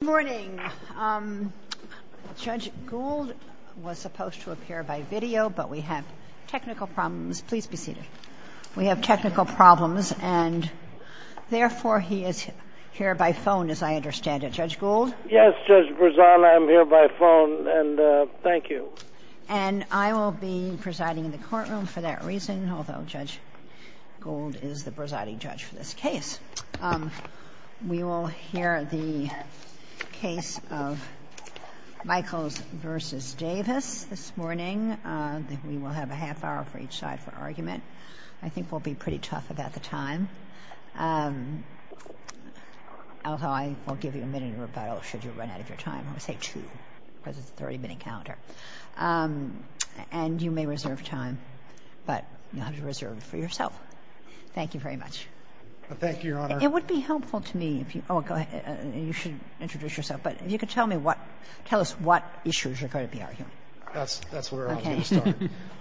Good morning. Judge Gould was supposed to appear by video, but we have technical problems. Please be seated. We have technical problems, and therefore he is here by phone, as I understand it. Judge Gould? Yes, Judge Brezana, I'm here by phone, and thank you. And I will be presiding in the courtroom for that reason, although Judge Gould is the presiding judge for this case. We will hear the case of Michaels v. Davis this morning. We will have a half hour for each side for argument. I think we'll be pretty tough about the time, although I will give you a minute in rebuttal should you run out of your time. I would say two because it's a 30-minute calendar. And you may reserve time, but you'll have to reserve it for Thank you, Your Honor. It would be helpful to me if you go ahead and you should introduce yourself. But if you could tell me what – tell us what issues are going to be argued. That's where I was going to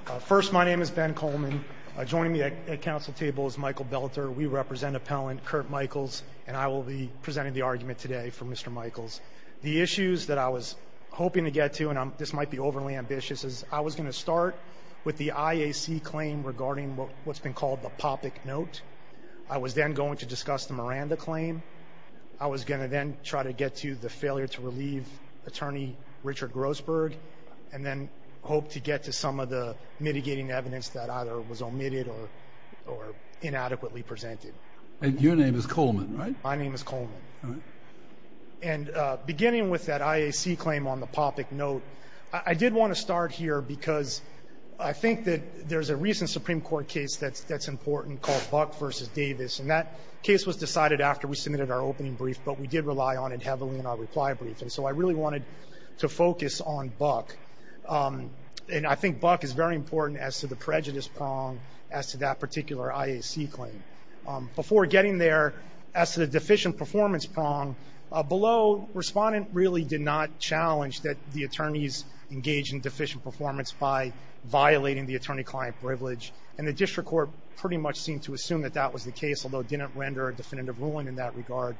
start. First, my name is Ben Coleman. Joining me at the council table is Michael Belter. We represent Appellant Kurt Michaels, and I will be presenting the argument today for Mr. Michaels. The issues that I was hoping to get to, and this might be overly ambitious, is I was going to start with the IAC claim regarding what's been called the POPIC note. I was then going to discuss the Miranda claim. I was going to then try to get to the failure to relieve attorney Richard Grossberg and then hope to get to some of the mitigating evidence that either was omitted or inadequately presented. And your name is Coleman, right? My name is Coleman. And beginning with that IAC claim on the POPIC note, I did want to start here because I think there's a recent Supreme Court case that's important called Buck v. Davis. And that case was decided after we submitted our opening brief, but we did rely on it heavily in our reply brief. And so I really wanted to focus on Buck. And I think Buck is very important as to the prejudice prong, as to that particular IAC claim. Before getting there, as to the deficient performance prong, below, Respondent really did not challenge that the attorneys engage in deficient performance by violating the attorney-client privilege. And the district court pretty much seemed to assume that that was the case, although it didn't render a definitive ruling in that regard.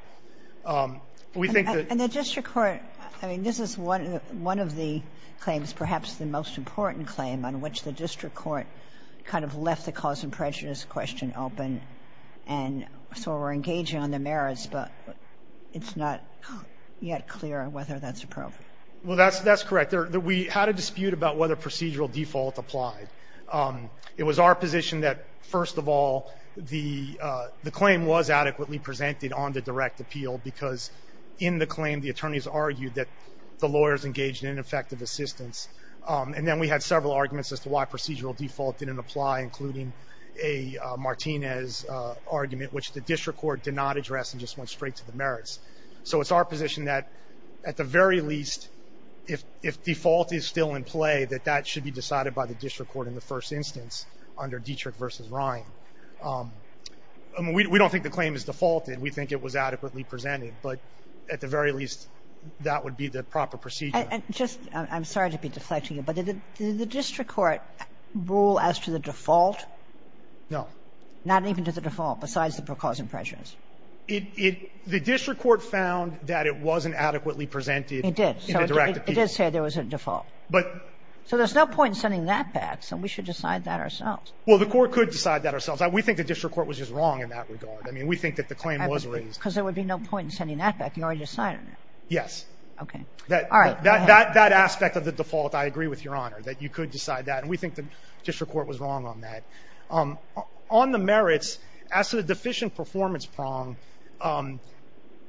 But we think that — And the district court — I mean, this is one of the claims, perhaps the most important claim, on which the district court kind of left the cause and prejudice question open. And so we're engaging on the merits, but it's not yet clear whether that's appropriate. Well, that's correct. We had a dispute about whether procedural default applied. It was our position that, first of all, the claim was adequately presented on the direct appeal because in the claim, the attorneys argued that the lawyers engaged in ineffective assistance. And then we had several arguments as to why procedural default didn't apply, including a Martinez argument, which the district court did not address and just went straight to the merits. So it's our position that, at the very least, if default is still in play, that that should be decided by the district court in the first instance under Dietrich v. Ryan. I mean, we don't think the claim is defaulted. We think it was adequately presented. But at the very least, that would be the proper procedure. And just — I'm sorry to be deflecting you, but did the district court rule as to the default? No. Not even to the default, besides the cause and prejudice? It — the district court found that it wasn't adequately presented in the direct appeal. It did. So it did say there was a default. But — So there's no point in sending that back. So we should decide that ourselves. Well, the court could decide that ourselves. We think the district court was just wrong in that regard. I mean, we think that the claim was raised. Because there would be no point in sending that back. You already decided it. Yes. Okay. All right. Go ahead. That aspect of the default, I agree with Your Honor, that you could decide that. And we think district court was wrong on that. On the merits, as to the deficient performance prong,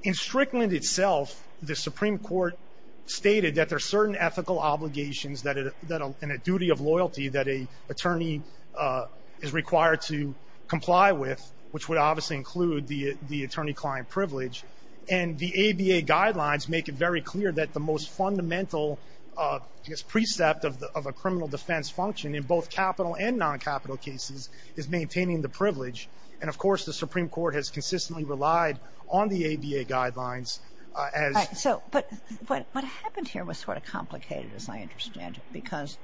in Strickland itself, the Supreme Court stated that there are certain ethical obligations that — and a duty of loyalty that an attorney is required to comply with, which would obviously include the attorney-client privilege. And the ABA guidelines make it very clear that the most fundamental, I guess, precept of a defense function, in both capital and non-capital cases, is maintaining the privilege. And, of course, the Supreme Court has consistently relied on the ABA guidelines as — So — but what happened here was sort of complicated, as I understand it. Because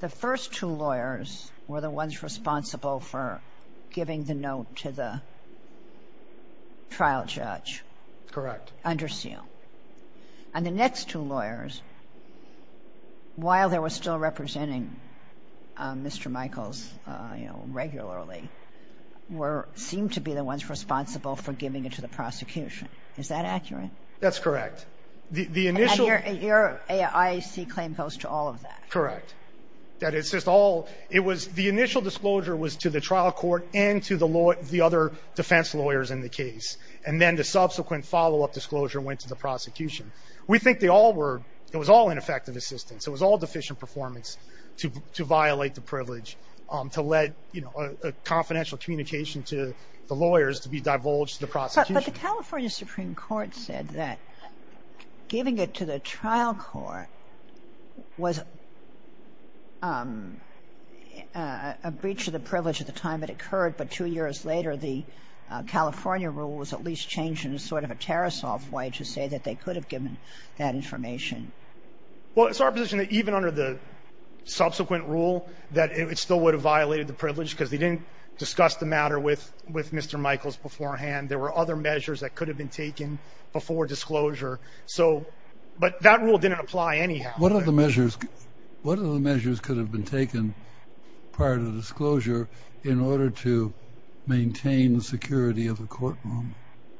the first two lawyers were the ones responsible for giving the note to the trial judge. Correct. Under seal. And the next two lawyers, while they were still representing Mr. Michaels, you know, regularly, were — seemed to be the ones responsible for giving it to the prosecution. Is that accurate? That's correct. The initial — And your IAC claim goes to all of that. Correct. That it's just all — it was — the initial disclosure was to the trial court and the other defense lawyers in the case. And then the subsequent follow-up disclosure went to the prosecution. We think they all were — it was all ineffective assistance. It was all deficient performance to violate the privilege, to let, you know, a confidential communication to the lawyers to be divulged to the prosecution. But the California Supreme Court said that giving it to the trial court was a breach of the privilege at the time it occurred. But two years later, the California rule was at least changed in a sort of a Tarasoff way to say that they could have given that information. Well, it's our position that even under the subsequent rule, that it still would have violated the privilege because they didn't discuss the matter with Mr. Michaels beforehand. There were other measures that could have been taken before disclosure. So — but that rule didn't apply anyhow. What are the measures — what are the measures could have been taken prior to disclosure in order to maintain the security of the courtroom?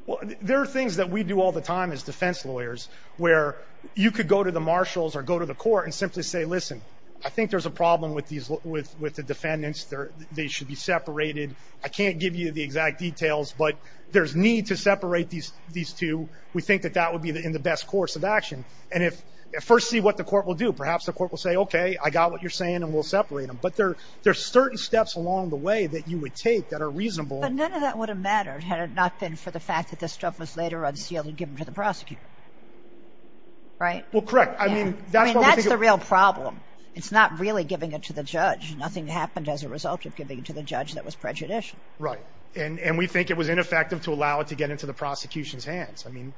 Well, there are things that we do all the time as defense lawyers where you could go to the marshals or go to the court and simply say, listen, I think there's a problem with these — with the defendants. They should be separated. I can't give you the exact details, but there's need to separate these two. We think that that would be in the best course of action. And if — first see what the court will do. Perhaps the court will say, OK, I got what you're saying and we'll separate them. But there are certain steps along the way that you would take that are reasonable. But none of that would have mattered had it not been for the fact that this stuff was later unsealed and given to the prosecutor. Right? Well, correct. I mean, that's what we think — I mean, that's the real problem. It's not really giving it to the judge. Nothing happened as a result of giving it to the judge that was prejudicial. Right. And we think it was ineffective to allow it to get into the prosecution's hands. I mean,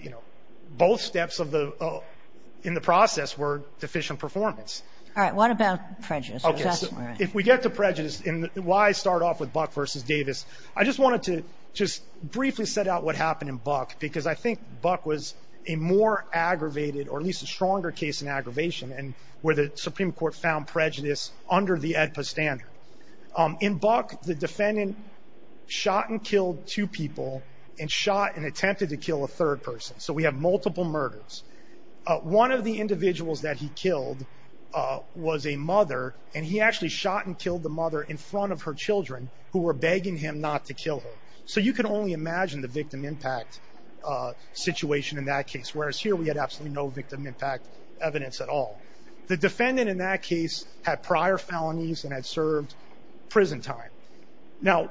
you know, both steps of the — in the process were deficient performance. All right. What about prejudice? OK. So if we get to prejudice and why I start off with Buck versus Davis, I just wanted to just briefly set out what happened in Buck, because I think Buck was a more aggravated or at least a stronger case in aggravation and where the Supreme Court found prejudice under the AEDPA standard. In Buck, the defendant shot and killed two people and shot and attempted to kill a third person. So we have multiple murders. One of the individuals that he killed was a mother, and he actually shot and killed the mother in front of her children who were begging him not to kill her. So you can only imagine the victim impact situation in that case, whereas here we had absolutely no victim impact evidence at all. The defendant in that case had prior felonies and had served prison time. Now,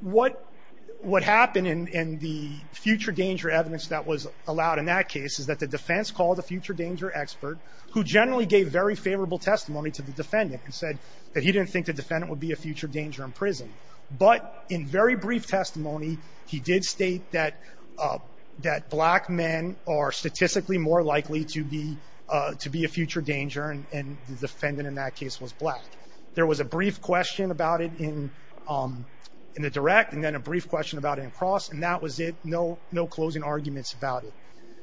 what happened in the future danger evidence that was allowed in that case is that the defense called a future danger expert who generally gave very favorable testimony to the defendant and said that he didn't think the defendant would be a future danger in prison. But in very brief testimony, he did state that black men are statistically more likely to be a future danger, and the defendant in that case was black. There was a brief question about it in the direct and then a brief question about it in cross, and that was it. No closing arguments about it.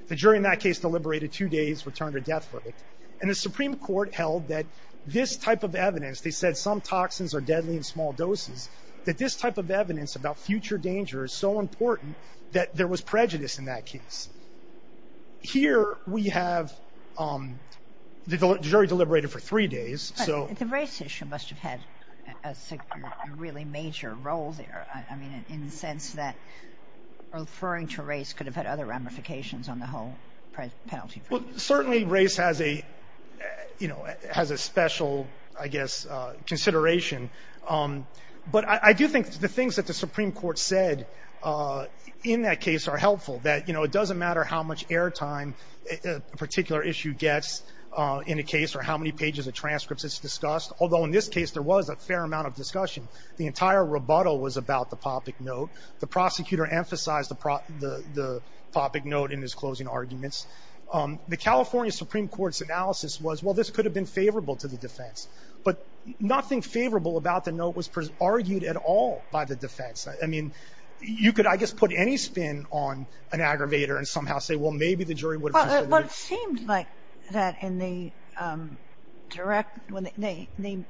The jury in that case deliberated two days, returned a death verdict, and the Supreme Court held that this type of evidence, they said some toxins are deadly in small doses, that this type of evidence about future danger is so important that there was prejudice in that case. Here we have the jury deliberated for three days. But the race issue must have had a really major role there, I mean, in the sense that referring to race could have had other ramifications on the whole penalty. Well, certainly race has a special, I guess, consideration. But I do think the things that the Supreme Court said in that case are helpful, that it doesn't matter how much air time a particular issue gets in a case or how many pages of transcripts it's discussed, although in this case there was a fair amount of discussion. The entire rebuttal was about the poppic note. The prosecutor emphasized the poppic note in his closing arguments. The California Supreme Court's analysis was, well, this could have been favorable to the defense, but nothing favorable about the note was argued at all by the defense. I mean, you could, I guess, put any spin on an aggravator and somehow say, well, maybe the jury would have considered it. Well, it seemed like that in the direct, when the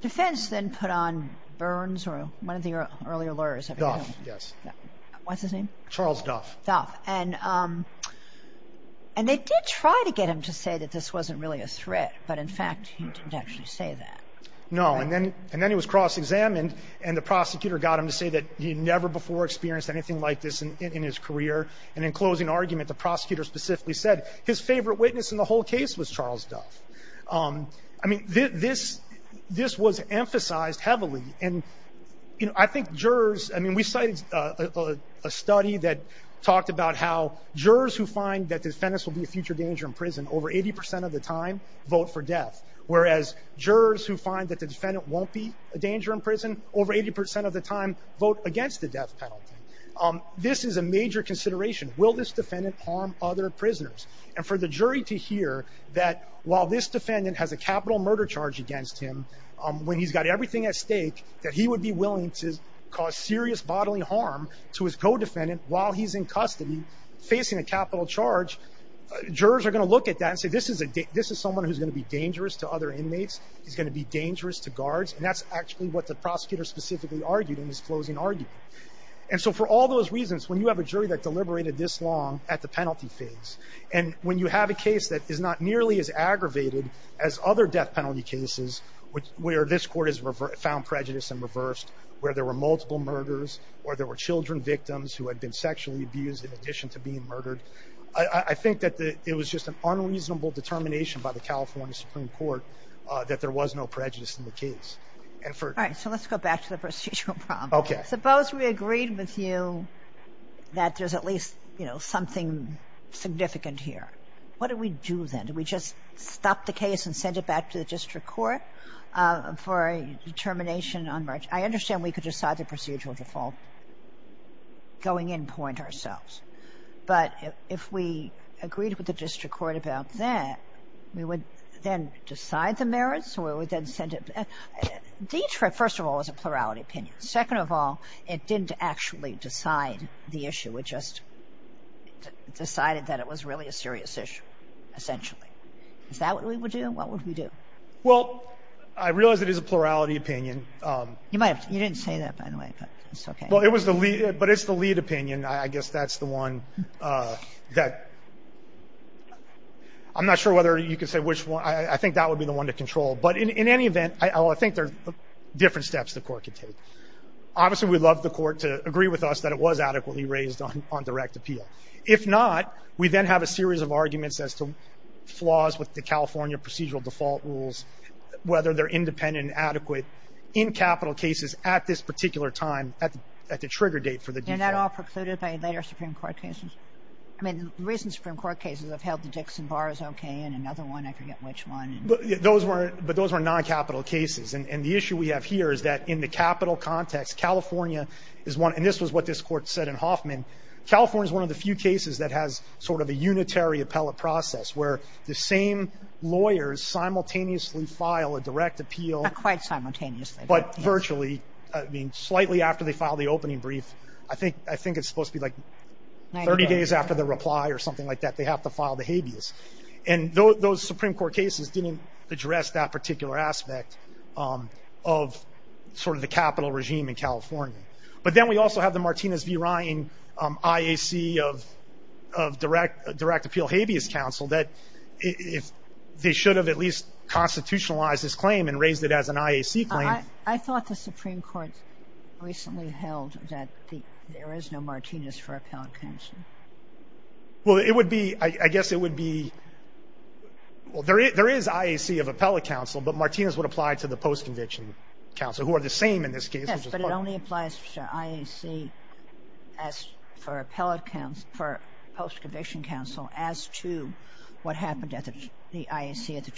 defense then put on Burns or one of the earlier lawyers. Duff, yes. What's his name? Charles Duff. Duff. And they did try to get him to say that this wasn't really a threat, but in fact he didn't actually say that. No. And then he was cross-examined and the prosecutor got him to say that he had never experienced anything like this in his career. And in closing argument, the prosecutor specifically said his favorite witness in the whole case was Charles Duff. I mean, this was emphasized heavily. And, you know, I think jurors, I mean, we cited a study that talked about how jurors who find that defendants will be a future danger in prison over 80% of the time vote for Duff. Whereas jurors who find that the defendant won't be a danger in prison over 80% of the time vote against the death penalty. This is a major consideration. Will this defendant harm other prisoners? And for the jury to hear that while this defendant has a capital murder charge against him, when he's got everything at stake, that he would be willing to cause serious bodily harm to his co-defendant while he's in custody facing a capital charge, jurors are going to look at that and say, this is someone who's going to be dangerous to other inmates. He's going to be dangerous to guards. And that's actually what the prosecutor specifically argued in his closing argument. And so for all those reasons, when you have a jury that deliberated this long at the penalty phase, and when you have a case that is not nearly as aggravated as other death penalty cases, where this court has found prejudice and reversed, where there were multiple murders, or there were children victims who had been sexually abused in addition to being murdered. I think that it was just an unreasonable determination by the California Supreme Court that there was no prejudice in the case. And for... All right. So let's go back to the procedural problem. Suppose we agreed with you that there's at least, you know, something significant here. What do we do then? Do we just stop the case and send it back to the district court for a determination on merit? I understand we could decide the procedural default going in point ourselves. But if we agreed with the district court about that, we would then decide the merits, or we would then send it. Detroit, first of all, is a plurality opinion. Second of all, it didn't actually decide the issue. It just decided that it was really a serious issue, essentially. Is that what we would do? What would we do? Well, I realize it is a plurality opinion. You didn't say that, by the way, but it's okay. But it's the lead opinion. I guess that's the one that... I'm not sure whether you could say which one. I think that would be the one to control. But in any event, I think there are different steps the court could take. Obviously, we'd love the court to agree with us that it was adequately raised on direct appeal. If not, we then have a series of arguments as to flaws with the California procedural default rules, whether they're independent and adequate in capital cases at this particular time, at the trigger date for the default. And that all precluded by later Supreme Court cases? I mean, the recent Supreme Court cases have held the Dixon bars okay, and another one, I forget which one. But those were non-capital cases. And the issue we have here is that in the capital context, California is one... And this was what this court said in Hoffman. California is one of the few cases that has sort of a unitary appellate process, where the same lawyers simultaneously file a direct appeal. Not quite simultaneously. But virtually. I mean, slightly after they file the opening brief. I think it's supposed to be like 30 days after the reply or something like that. They have to file the habeas. And those Supreme Court cases didn't address that particular aspect of sort of the capital regime in California. But then we also have the Martinez v. Ryan IAC of direct appeal habeas counsel that if they should have at least constitutionalized this claim and raised it as an IAC claim... I thought the Supreme Court recently held that there is no Martinez for appellate counsel. Well, it would be... I guess it would be... Well, there is IAC of appellate counsel, but Martinez would apply to the post-conviction counsel, who are the same in this case. Yes, but it only applies to IAC for post-conviction counsel as to what happened at the IAC at the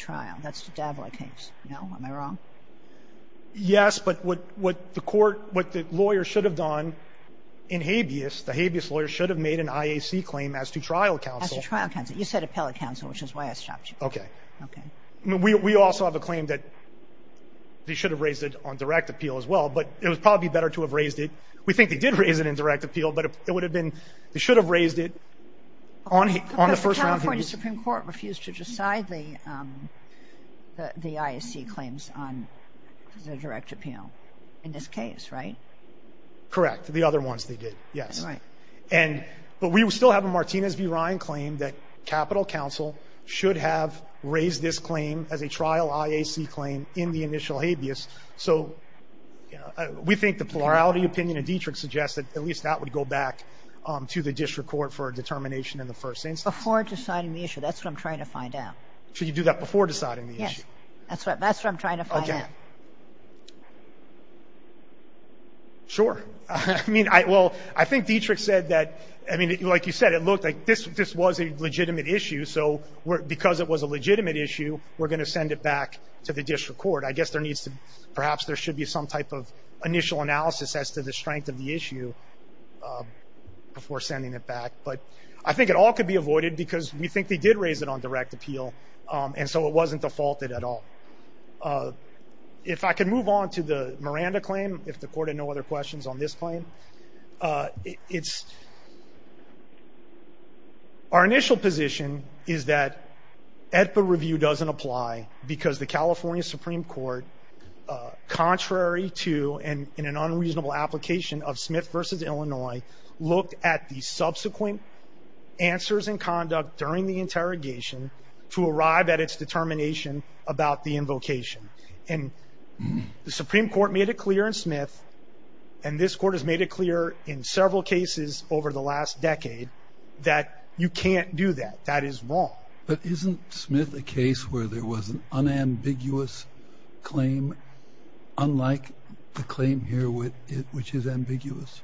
Yes, but what the court, what the lawyer should have done in habeas, the habeas lawyer should have made an IAC claim as to trial counsel. As to trial counsel. You said appellate counsel, which is why I stopped you. Okay. Okay. I mean, we also have a claim that they should have raised it on direct appeal as well. But it would probably be better to have raised it. We think they did raise it in direct appeal, but it would have been they should have raised it on the first round. The Supreme Court refused to decide the IAC claims on the direct appeal in this case, right? Correct. The other ones they did, yes. Right. And, but we still have a Martinez v. Ryan claim that capital counsel should have raised this claim as a trial IAC claim in the initial habeas. So we think the plurality opinion of Dietrich suggests that at least that would go back to the district court for a determination in the first instance. Before deciding the issue. That's what I'm trying to find out. Should you do that before deciding the issue? Yes. That's what I'm trying to find out. Okay. Sure. I mean, I, well, I think Dietrich said that, I mean, like you said, it looked like this, this was a legitimate issue. So because it was a legitimate issue, we're going to send it back to the district court. I guess there needs to, perhaps there should be some type of initial analysis as to the strength of the issue before sending it back. But I think it all could be avoided because we think they did raise it on direct appeal. And so it wasn't defaulted at all. If I could move on to the Miranda claim, if the court had no other questions on this claim, it's, our initial position is that AEDPA review doesn't apply because the California Supreme Court, contrary to and in an unreasonable application of Smith versus Illinois, looked at the subsequent answers and conduct during the interrogation to arrive at its determination about the invocation. And the Supreme Court made it clear in Smith, and this court has made it clear in several cases over the last decade that you can't do that. That is wrong. But isn't Smith a case where there was an unambiguous claim, unlike the claim here which is ambiguous?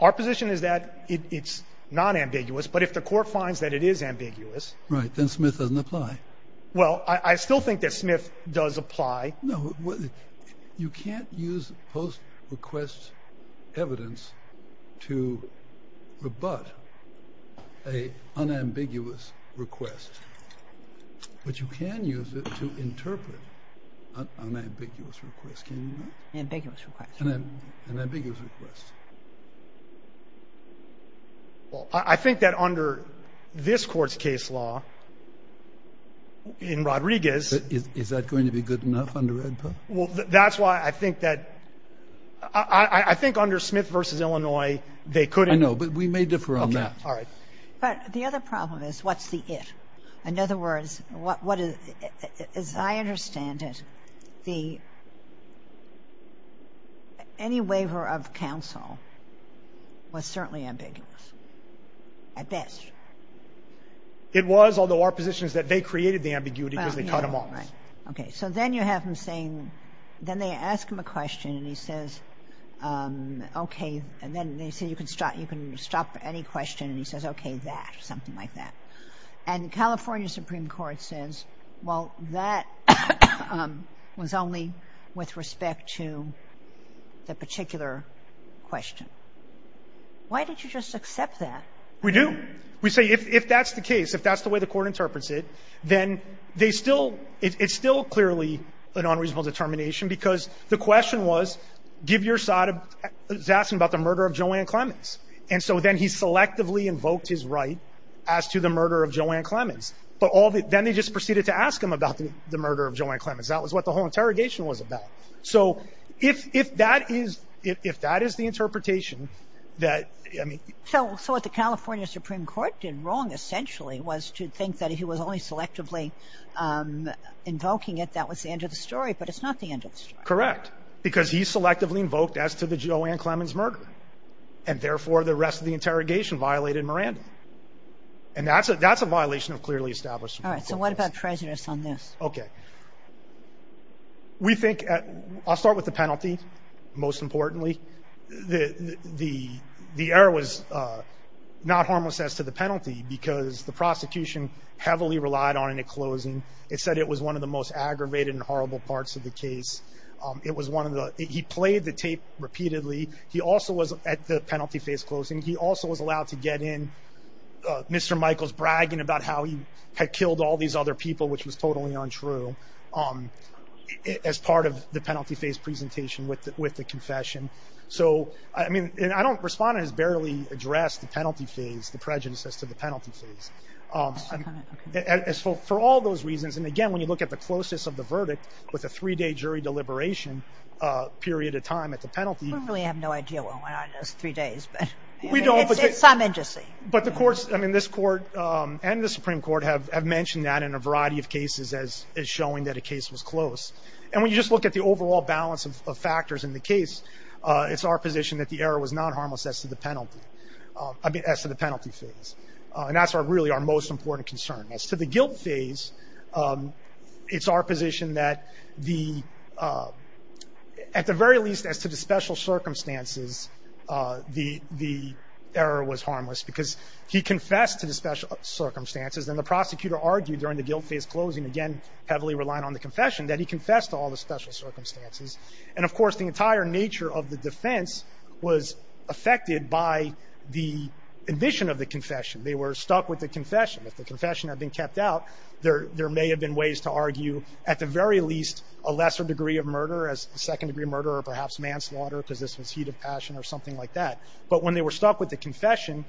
Our position is that it's nonambiguous. But if the court finds that it is ambiguous Right. Then Smith doesn't apply. Well, I still think that Smith does apply. No. You can't use post-request evidence to rebut an unambiguous request. But you can use it to interpret an unambiguous request. Can you do that? An ambiguous request. An ambiguous request. I think that under this court's case law, in Rodriguez Is that going to be good enough under Redbird? Well, that's why I think that I think under Smith versus Illinois, they could I know, but we may differ on that. Okay. All right. But the other problem is what's the it? In other words, what is, as I understand it, the any waiver of counsel was certainly ambiguous, at best. It was, although our position is that they created the ambiguity because they cut them off. Okay. So then you have him saying, then they ask him a question and he says, okay. And then they say, you can stop. You can stop any question. And he says, okay, that, something like that. And the California Supreme Court says, well, that was only with respect to the particular question. Why did you just accept that? We do. We say if that's the case, if that's the way the court interprets it, then they It's still clearly an unreasonable determination because the question was, give your side of asking about the murder of Joanne Clemens. And so then he selectively invoked his right as to the murder of Joanne Clemens. But then they just proceeded to ask him about the murder of Joanne Clemens. That was what the whole interrogation was about. So if that is if that is the interpretation that I mean. So what the California Supreme Court did wrong essentially was to think that he was only selectively invoking it. That was the end of the story. But it's not the end of the story. Correct. Because he selectively invoked as to the Joanne Clemens murder. And therefore, the rest of the interrogation violated Miranda. And that's a that's a violation of clearly established. All right. So what about prejudice on this? Okay. We think I'll start with the penalty. Most importantly, the the the error was not harmless as to the penalty because the penalty relied on in a closing. It said it was one of the most aggravated and horrible parts of the case. It was one of the he played the tape repeatedly. He also was at the penalty phase closing. He also was allowed to get in. Mr. Michael's bragging about how he had killed all these other people, which was totally untrue as part of the penalty phase presentation with with the confession. So I mean, I don't respond has barely addressed the penalty phase. Prejudice as to the penalty phase as for all those reasons. And again, when you look at the closest of the verdict with a three day jury deliberation period of time at the penalty, we really have no idea what went on those three days. But we don't. But it's some agency. But the courts, I mean, this court and the Supreme Court have have mentioned that in a variety of cases as is showing that a case was close. And when you just look at the overall balance of factors in the case, it's our position that the error was not harmless as to the penalty as to the penalty phase. And that's really our most important concern as to the guilt phase. It's our position that the at the very least as to the special circumstances, the the error was harmless because he confessed to the special circumstances. And the prosecutor argued during the guilt phase closing again, heavily relying on the confession that he confessed to all the special circumstances. And of course, the entire nature of the defense was affected by the admission of the confession. They were stuck with the confession. If the confession had been kept out, there may have been ways to argue at the very least a lesser degree of murder as a second degree murder or perhaps manslaughter because this was heat of passion or something like that. But when they were stuck with the confession,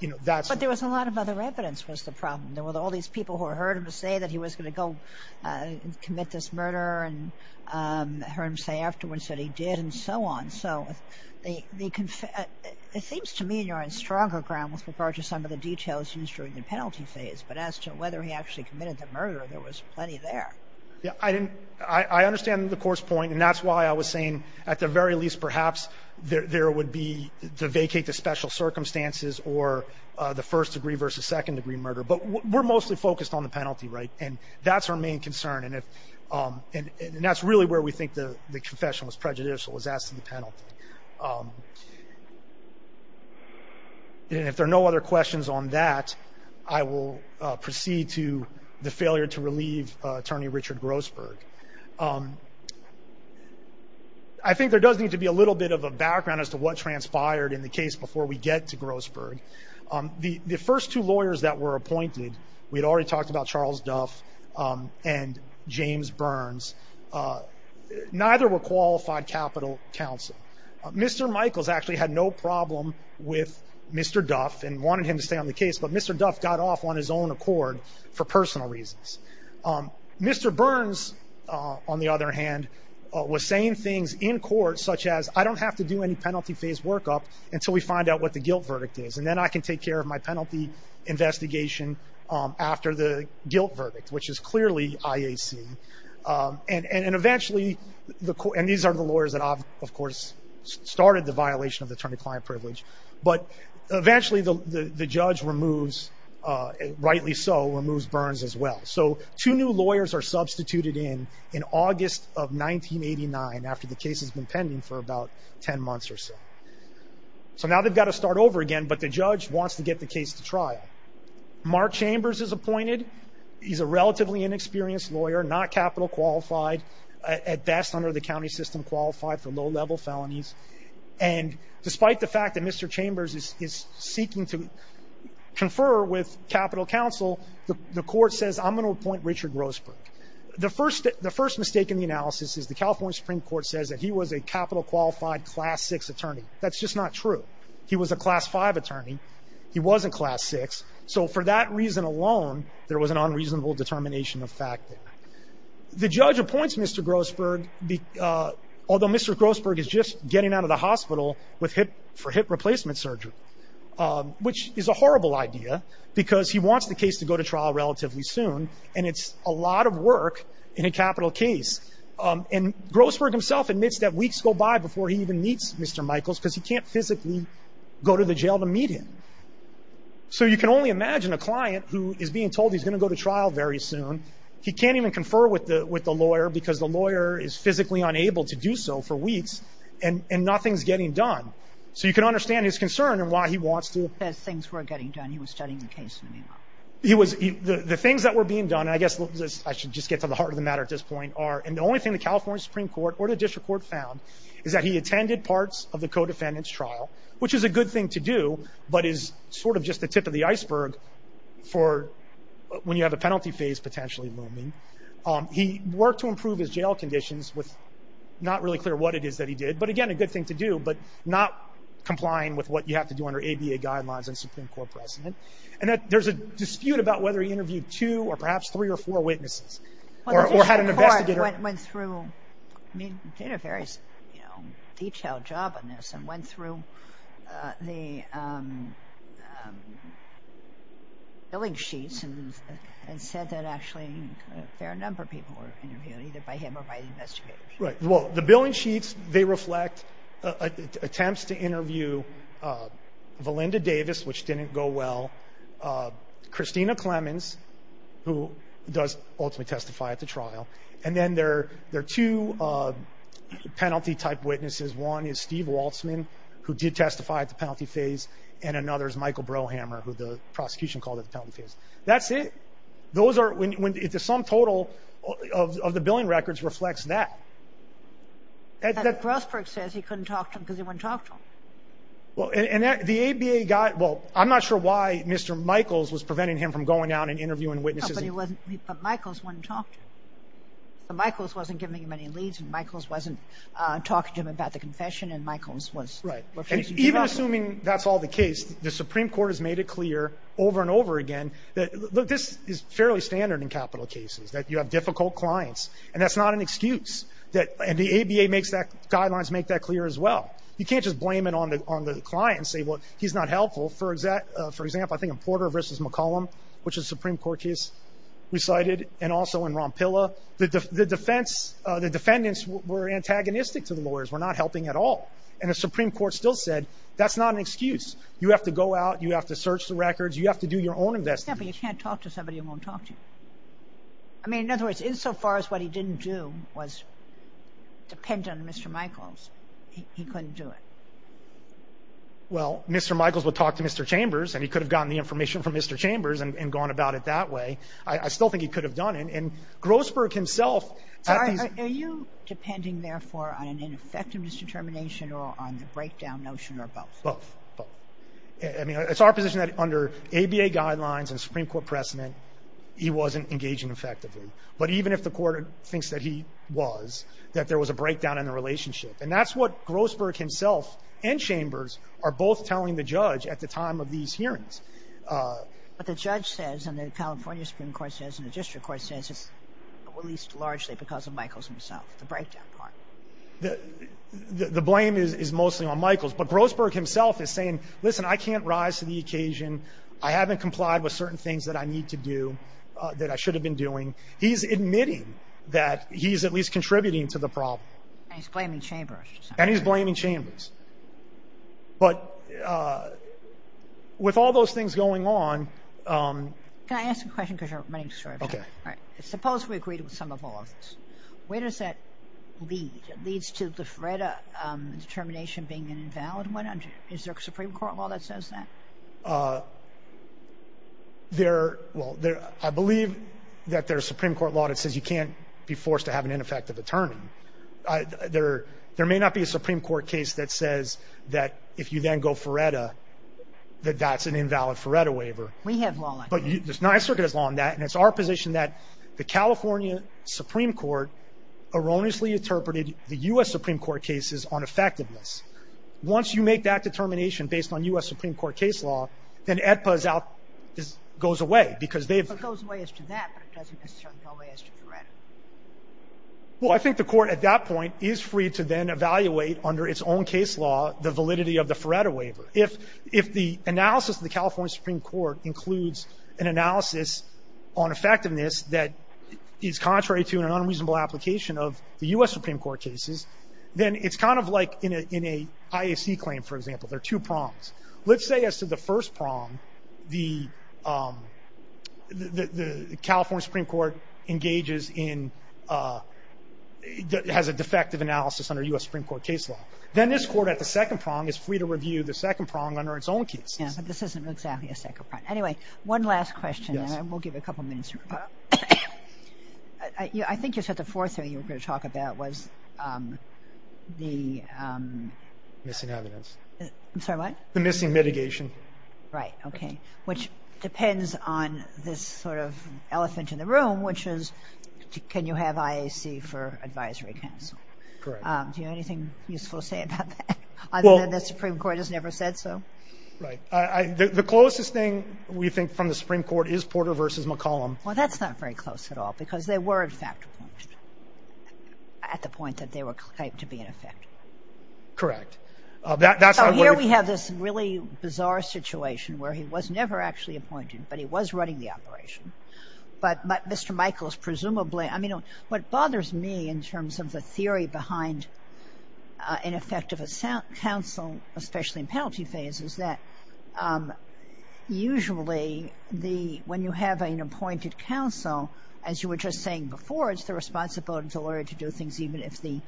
you know, that's. But there was a lot of other evidence was the problem. There were all these people who heard him say that he was going to go commit this murder and hear him say afterwards that he did and so on. So they they confess. It seems to me you're on stronger ground with regard to some of the details used during the penalty phase. But as to whether he actually committed the murder, there was plenty there. Yeah, I didn't. I understand the court's point. And that's why I was saying at the very least, perhaps there would be to vacate the special circumstances or the first degree versus second degree murder. But we're mostly focused on the penalty. Right. And that's our main concern. And that's really where we think the confession was prejudicial, was asked to the penalty. And if there are no other questions on that, I will proceed to the failure to relieve Attorney Richard Grossberg. I think there does need to be a little bit of a background as to what transpired in the case before we get to Grossberg. The first two lawyers that were appointed, we had already talked about Charles Duff and James Burns. Neither were qualified Capitol counsel. Mr. Michaels actually had no problem with Mr. Duff and wanted him to stay on the case. But Mr. Duff got off on his own accord for personal reasons. Mr. Burns, on the other hand, was saying things in court such as, I don't have to do any penalty phase workup until we find out what the guilt verdict is. And then I can take care of my penalty investigation after the guilt verdict. Which is clearly IAC. And eventually, and these are the lawyers that, of course, started the violation of attorney-client privilege. But eventually the judge removes, rightly so, removes Burns as well. So two new lawyers are substituted in in August of 1989 after the case has been pending for about 10 months or so. So now they've got to start over again, but the judge wants to get the case to trial. Mark Chambers is appointed. He's a relatively inexperienced lawyer, not Capitol qualified. At best, under the county system, qualified for low-level felonies. And despite the fact that Mr. Chambers is seeking to confer with Capitol counsel, the court says, I'm going to appoint Richard Roseburg. The first mistake in the analysis is the California Supreme Court says that he was a Capitol qualified Class 6 attorney. That's just not true. He was a Class 5 attorney. He wasn't Class 6. So for that reason alone, there was an unreasonable determination of fact there. The judge appoints Mr. Grosberg, although Mr. Grosberg is just getting out of the hospital for hip replacement surgery, which is a horrible idea because he wants the case to go to trial relatively soon. And it's a lot of work in a Capitol case. And Grosberg himself admits that weeks go by before he even meets Mr. Michaels because he can't physically go to the jail to meet him. So you can only imagine a client who is being told he's going to go to trial very soon. He can't even confer with the with the lawyer because the lawyer is physically unable to do so for weeks. And nothing's getting done. So you can understand his concern and why he wants to. As things were getting done, he was studying the case. He was the things that were being done. I guess I should just get to the heart of the matter at this point are and the only thing the California Supreme Court or the district court found is that he attended parts of the co-defendants trial, which is a good thing to do. But is sort of just the tip of the iceberg for when you have a penalty phase potentially looming. He worked to improve his jail conditions with not really clear what it is that he did. But again, a good thing to do, but not complying with what you have to do under ABA guidelines and Supreme Court precedent. And there's a dispute about whether he interviewed two or perhaps three or four witnesses or had an investigator went through. I mean, did a very detailed job on this and went through the. Billing sheets and said that actually a fair number of people were interviewed either by him or by investigators. Right. Well, the billing sheets, they reflect attempts to interview Valinda Davis, which didn't go well. Christina Clemens, who does ultimately testify at the trial. And then there there are two penalty type witnesses. One is Steve Waltzman, who did testify at the penalty phase. And another is Michael Brohammer, who the prosecution called it the penalty phase. That's it. Those are when the sum total of the billing records reflects that. But Grossberg says he couldn't talk to him because he wouldn't talk to him. Well, and the ABA guy. Well, I'm not sure why Mr. Michaels was preventing him from going out and interviewing witnesses. Michaels wouldn't talk to him. Michaels wasn't giving him any leads. And Michaels wasn't talking to him about the confession. And Michaels was. Right. Even assuming that's all the case, the Supreme Court has made it clear over and over again that this is fairly standard in capital cases, that you have difficult clients. And that's not an excuse that the ABA makes that guidelines make that clear as well. You can't just blame it on the on the client and say, well, he's not helpful. For example, I think in Porter v. McCollum, which is Supreme Court case we cited and also in Rompilla, the defense, the defendants were antagonistic to the lawyers, were not helping at all. And the Supreme Court still said that's not an excuse. You have to go out. You have to search the records. You have to do your own investigation. But you can't talk to somebody who won't talk to you. I mean, in other words, insofar as what he didn't do was depend on Mr. Michaels, he couldn't do it. Well, Mr. Michaels would talk to Mr. Chambers and he could have gotten the information from Mr. Chambers and gone about it that way. I still think he could have done it. And Grosberg himself. Are you depending, therefore, on an ineffectiveness determination or on the breakdown notion or both? Both. I mean, it's our position that under ABA guidelines and Supreme Court precedent, he wasn't engaging effectively. But even if the court thinks that he was, that there was a breakdown in the relationship. And that's what Grosberg himself and Chambers are both telling the judge at the time of these hearings. But the judge says and the California Supreme Court says and the district court says it's released largely because of Michaels himself. The breakdown part. The blame is mostly on Michaels. But Grosberg himself is saying, listen, I can't rise to the occasion. I haven't complied with certain things that I need to do that I should have been doing. He's admitting that he's at least contributing to the problem. And he's blaming Chambers. And he's blaming Chambers. But with all those things going on. Can I ask a question? Because you're running short. OK. All right. Suppose we agreed with some of all of this. Where does that lead? It leads to the FREDA determination being an invalid one. Is there a Supreme Court law that says that? There. Well, I believe that there's a Supreme Court law that says you can't be forced to have an ineffective attorney. There there may not be a Supreme Court case that says that if you then go for FREDA, that that's an invalid FREDA waiver. We have law on that. But the Ninth Circuit has law on that. And it's our position that the California Supreme Court erroneously interpreted the U.S. Supreme Court cases on effectiveness. Once you make that determination based on U.S. Supreme Court case law, then AEDPA goes away because they've. Well, I think the court at that point is free to then evaluate under its own case law, the validity of the FREDA waiver. If if the analysis of the California Supreme Court includes an analysis on effectiveness that is contrary to an unreasonable application of the U.S. Supreme Court cases, then it's kind of like in a in a IAC claim, for example, there are two prongs. Let's say as to the first prong, the the California Supreme Court engages in a has a defective analysis under U.S. Supreme Court case law, then this court at the second prong is free to review the second prong under its own case. Yeah, but this isn't exactly a second prong. Anyway, one last question and we'll give a couple minutes. I think you said the fourth thing you were going to talk about was the. Missing evidence. I'm sorry, what? The missing mitigation. Right. Which depends on this sort of elephant in the room, which is can you have IAC for advisory counsel? Correct. Do you have anything useful to say about that? Other than the Supreme Court has never said so. Right. The closest thing we think from the Supreme Court is Porter versus McCollum. Well, that's not very close at all because they were in fact at the point that they were claimed to be in effect. Correct. So here we have this really bizarre situation where he was never actually appointed, but he was running the operation. But Mr. Michaels, presumably, I mean, what bothers me in terms of the theory behind ineffective counsel, especially in penalty phases, that usually the when you have an appointed counsel, as you were just saying before, it's the responsibility to do things even if the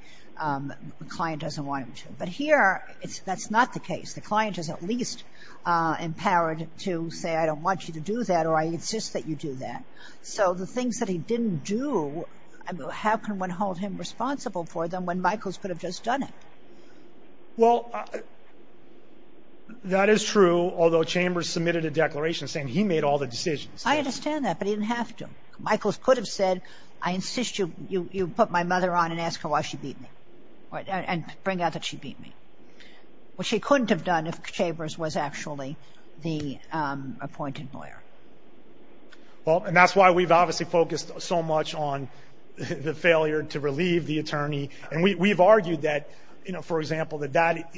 client doesn't want him to. But here, that's not the case. The client is at least empowered to say, I don't want you to do that or I insist that you do that. So the things that he didn't do, how can one hold him responsible for them when Michaels could have just done it? Well, that is true, although Chambers submitted a declaration saying he made all the decisions. I understand that, but he didn't have to. Michaels could have said, I insist you put my mother on and ask her why she beat me. And bring out that she beat me. What she couldn't have done if Chambers was actually the appointed lawyer. Well, and that's why we've obviously focused so much on the failure to relieve the attorney. And we've argued that, you know, for example, that that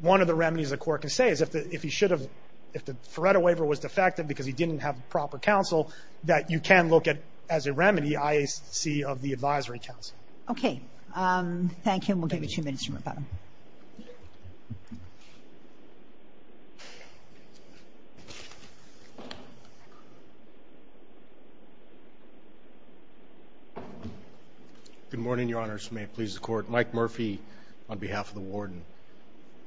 one of the remedies the court can say is if he should have, if the Faretta waiver was defective because he didn't have proper counsel, that you can look at as a remedy, IAC of the advisory council. Okay. Thank you. And we'll give you two minutes. Good morning, Your Honors. May it please the court. Mike Murphy on behalf of the warden.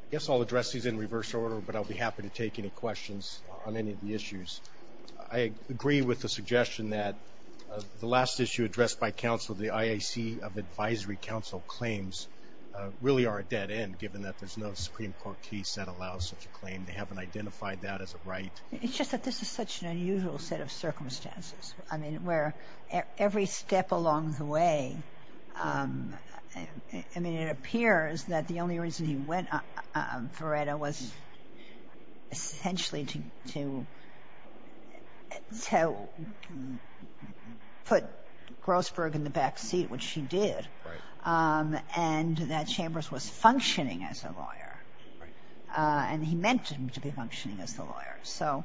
I guess I'll address these in reverse order, but I'll be happy to take any questions on any of the issues. I agree with the suggestion that the last issue addressed by counsel, the IAC of advisory council claims really are a dead end, given that there's no Supreme Court case that allows such a claim. They haven't identified that as a right. It's just that this is such an unusual set of circumstances. I mean, where every step along the way, I mean, it appears that the only reason he went Faretta was essentially to to put Grossberg in the back seat, which she did, and that Chambers was functioning as a lawyer, and he meant him to be functioning as the lawyer. So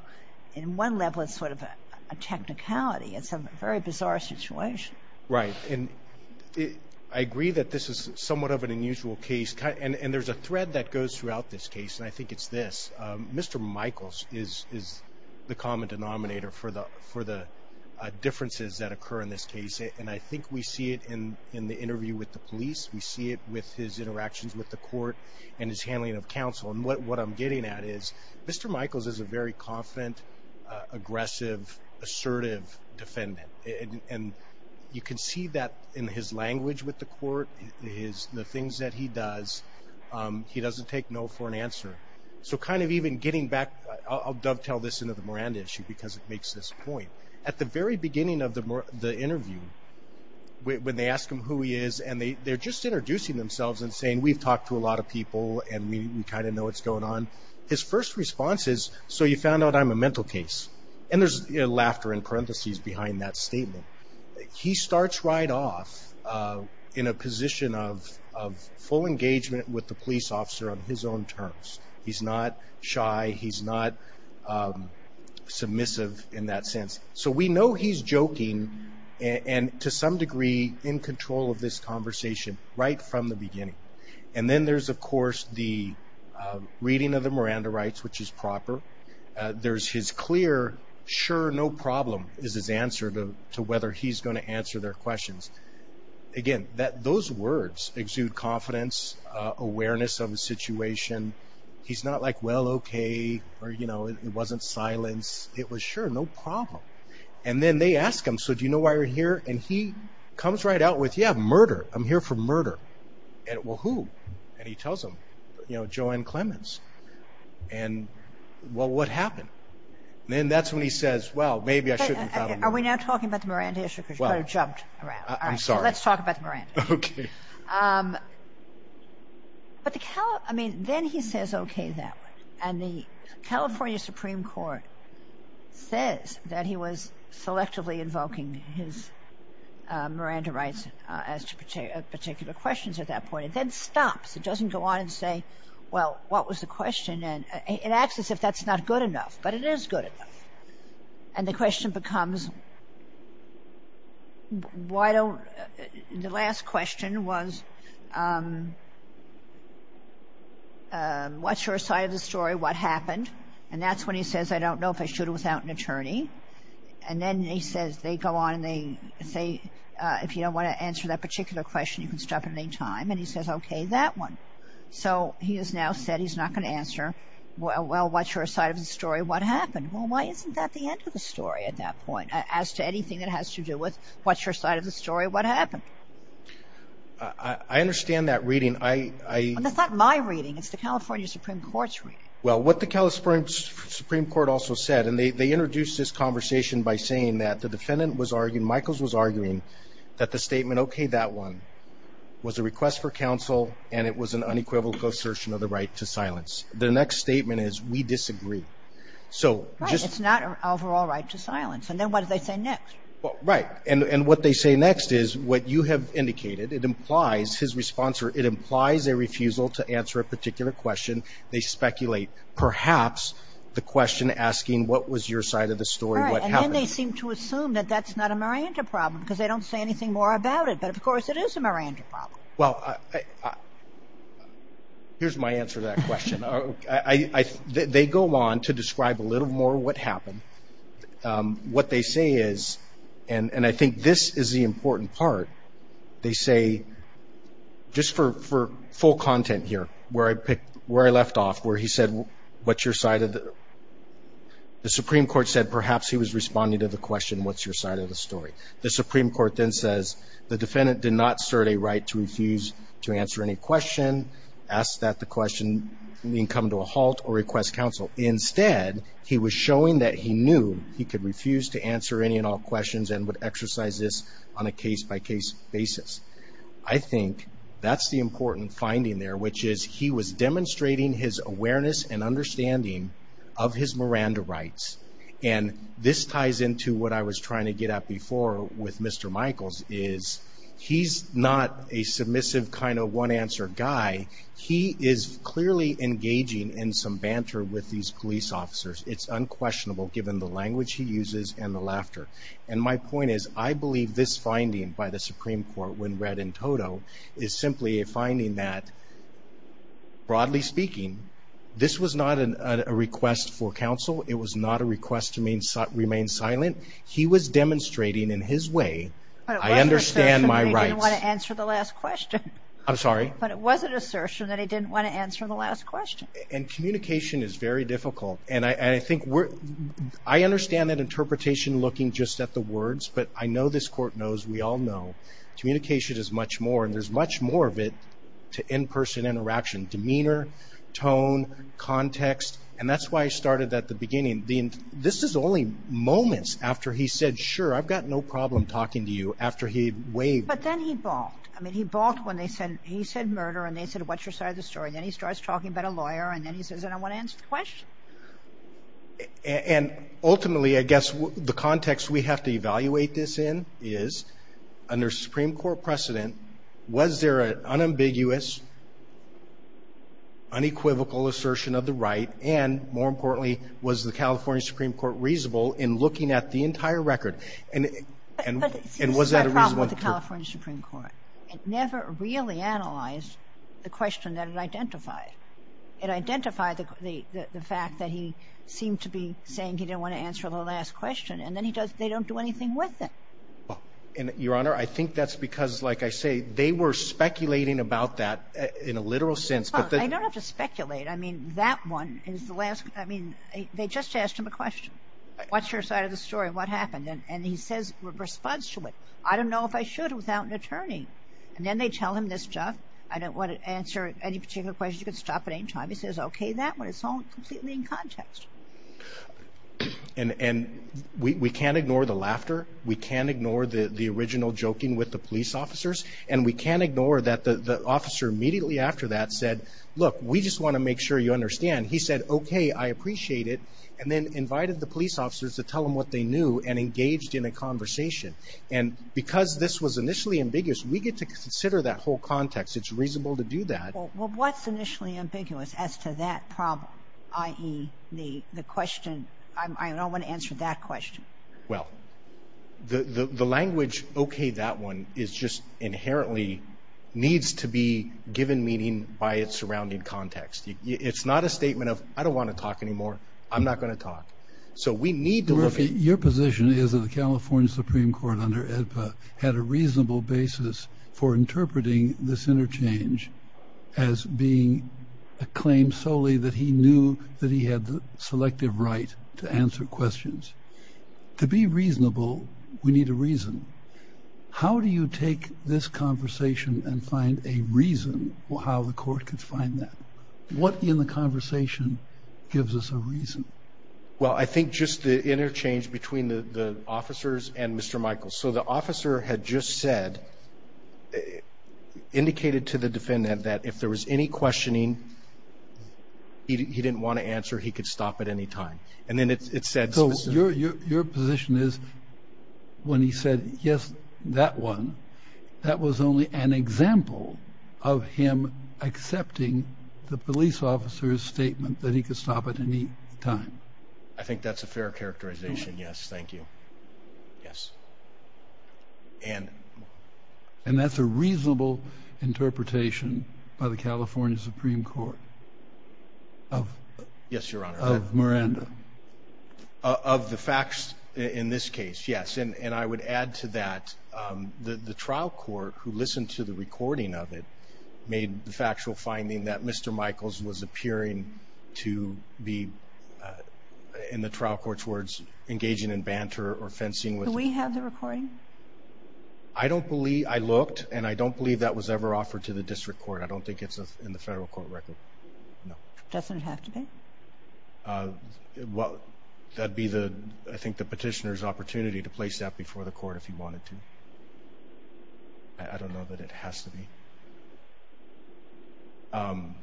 in one level, it's sort of a technicality. It's a very bizarre situation. Right. And I agree that this is somewhat of an unusual case, and there's a thread that goes throughout this case, and I think it's this. Mr. Michaels is the common denominator for the differences that occur in this case, and I think we see it in the interview with the police. We see it with his interactions with the court and his handling of counsel. And what I'm getting at is Mr. Michaels is a very confident, aggressive, assertive defendant, and you can see that in his language with the court, the things that he does, he doesn't take no for an answer. So kind of even getting back, I'll dovetail this into the Miranda issue, because it makes this point. At the very beginning of the interview, when they ask him who he is, and they're just introducing themselves and saying, we've talked to a lot of people, and we kind of know what's going on. His first response is, so you found out I'm a mental case. And there's laughter in parentheses behind that statement. He starts right off in a position of full engagement with the police officer on his own terms. He's not shy, he's not submissive in that sense. So we know he's joking, and to some degree in control of this conversation, right from the beginning. And then there's, of course, the reading of the Miranda rights, which is proper. There's his clear, sure, no problem, is his answer to whether he's going to answer their questions. Again, those words exude confidence, awareness of a situation. He's not like, well, okay, or, you know, it wasn't silence. It was sure, no problem. And then they ask him, so do you know why you're here? And he comes right out with, yeah, murder. I'm here for murder. And well, who? And he tells them, you know, Joanne Clemens. And well, what happened? Then that's when he says, well, maybe I shouldn't have found out. Are we now talking about the Miranda issue? Because you kind of jumped around. I'm sorry. Let's talk about the Miranda. Okay. But then he says, okay, that one. And the California Supreme Court says that he was selectively invoking his Miranda rights as to particular questions at that point. It then stops. It doesn't go on and say, well, what was the question? And it acts as if that's not good enough. But it is good enough. And the question becomes, why don't, the last question was, what's your side of the story? What happened? And that's when he says, I don't know if I should without an attorney. And then he says, they go on and they say, if you don't want to answer that particular question, you can stop at any time. And he says, okay, that one. So he has now said he's not going to answer. Well, what's your side of the story? What happened? Well, why isn't that the end of the story at that point? As to anything that has to do with what's your side of the story? What happened? I understand that reading. I, I. That's not my reading. It's the California Supreme Court's reading. Well, what the California Supreme Court also said, and they introduced this conversation by saying that the defendant was arguing, Michaels was arguing, that the statement, okay, that one, was a request for counsel. And it was an unequivocal assertion of the right to silence. The next statement is, we disagree. So. Right. It's not an overall right to silence. And then what do they say next? Well, right. And what they say next is what you have indicated. It implies, his response, or it implies a refusal to answer a particular question. They speculate, perhaps, the question asking, what was your side of the story? What happened? And then they seem to assume that that's not a Miranda problem, because they don't say anything more about it. But, of course, it is a Miranda problem. Well, here's my answer to that question. I, they go on to describe a little more what happened. What they say is, and I think this is the important part, they say, just for full content here, where I picked, where I left off, where he said, what's your side of the, the Supreme Court said, perhaps, he was responding to the question, what's your side of the story? The Supreme Court then says, the defendant did not assert a right to refuse to answer any question, ask that the question come to a halt, or request counsel. Instead, he was showing that he knew he could refuse to answer any and all questions, and would exercise this on a case-by-case basis. I think that's the important finding there, which is he was demonstrating his awareness and understanding of his Miranda rights. And this ties into what I was trying to get at before with Mr. Michaels, is he's not a guy, he is clearly engaging in some banter with these police officers. It's unquestionable, given the language he uses and the laughter. And my point is, I believe this finding by the Supreme Court, when read in toto, is simply a finding that, broadly speaking, this was not a request for counsel. It was not a request to remain silent. He was demonstrating in his way, I understand my rights. I didn't want to answer the last question. I'm sorry. But it was an assertion that he didn't want to answer the last question. And communication is very difficult. And I think we're, I understand that interpretation looking just at the words, but I know this court knows, we all know, communication is much more, and there's much more of it to in-person interaction, demeanor, tone, context. And that's why I started at the beginning. This is only moments after he said, sure, I've got no problem talking to you, after he waved. But then he balked. I mean, he balked when they said, he said, murder. And they said, what's your side of the story? Then he starts talking about a lawyer. And then he says, I don't want to answer the question. And ultimately, I guess, the context we have to evaluate this in is, under Supreme Court precedent, was there an unambiguous, unequivocal assertion of the right? And more importantly, was the California Supreme Court reasonable in looking at the entire record? And was that a reasonable? The California Supreme Court never really analyzed the question that it identified. It identified the fact that he seemed to be saying he didn't want to answer the last question. And then he does, they don't do anything with it. And Your Honor, I think that's because, like I say, they were speculating about that in a literal sense. But they don't have to speculate. I mean, that one is the last. I mean, they just asked him a question. What's your side of the story? What happened? And he says, responds to it. I don't know if I should without an attorney. And then they tell him this stuff. I don't want to answer any particular question. You can stop at any time. He says, okay, that one. It's all completely in context. And we can't ignore the laughter. We can't ignore the original joking with the police officers. And we can't ignore that the officer immediately after that said, look, we just want to make sure you understand. He said, okay, I appreciate it. And then invited the police officers to tell him what they knew and engaged in a conversation. And because this was initially ambiguous, we get to consider that whole context. It's reasonable to do that. Well, what's initially ambiguous as to that problem, i.e., the question, I don't want to answer that question. Well, the language, okay, that one is just inherently needs to be given meaning by its surrounding context. It's not a statement of, I don't want to talk anymore. I'm not going to talk. So we need to look at... had a reasonable basis for interpreting this interchange as being a claim solely that he knew that he had the selective right to answer questions. To be reasonable, we need a reason. How do you take this conversation and find a reason how the court could find that? What in the conversation gives us a reason? Well, I think just the interchange between the officers and Mr. Michael. So the officer had just said, indicated to the defendant that if there was any questioning he didn't want to answer, he could stop at any time. And then it said... So your position is when he said, yes, that one, that was only an example of him accepting the police officer's statement that he could stop at any time. I think that's a fair characterization. Yes. Thank you. Yes. And... And that's a reasonable interpretation by the California Supreme Court of Miranda. Of the facts in this case, yes. And I would add to that, the trial court who listened to the recording of it made the factual finding that Mr. Michaels was appearing to be, in the trial court's words, engaging in banter or fencing with... Do we have the recording? I don't believe, I looked, and I don't believe that was ever offered to the district court. I don't think it's in the federal court record. No. Doesn't it have to be? Well, that'd be the, I think, the petitioner's opportunity to place that before the court if he wanted to. I don't know that it has to be. Um,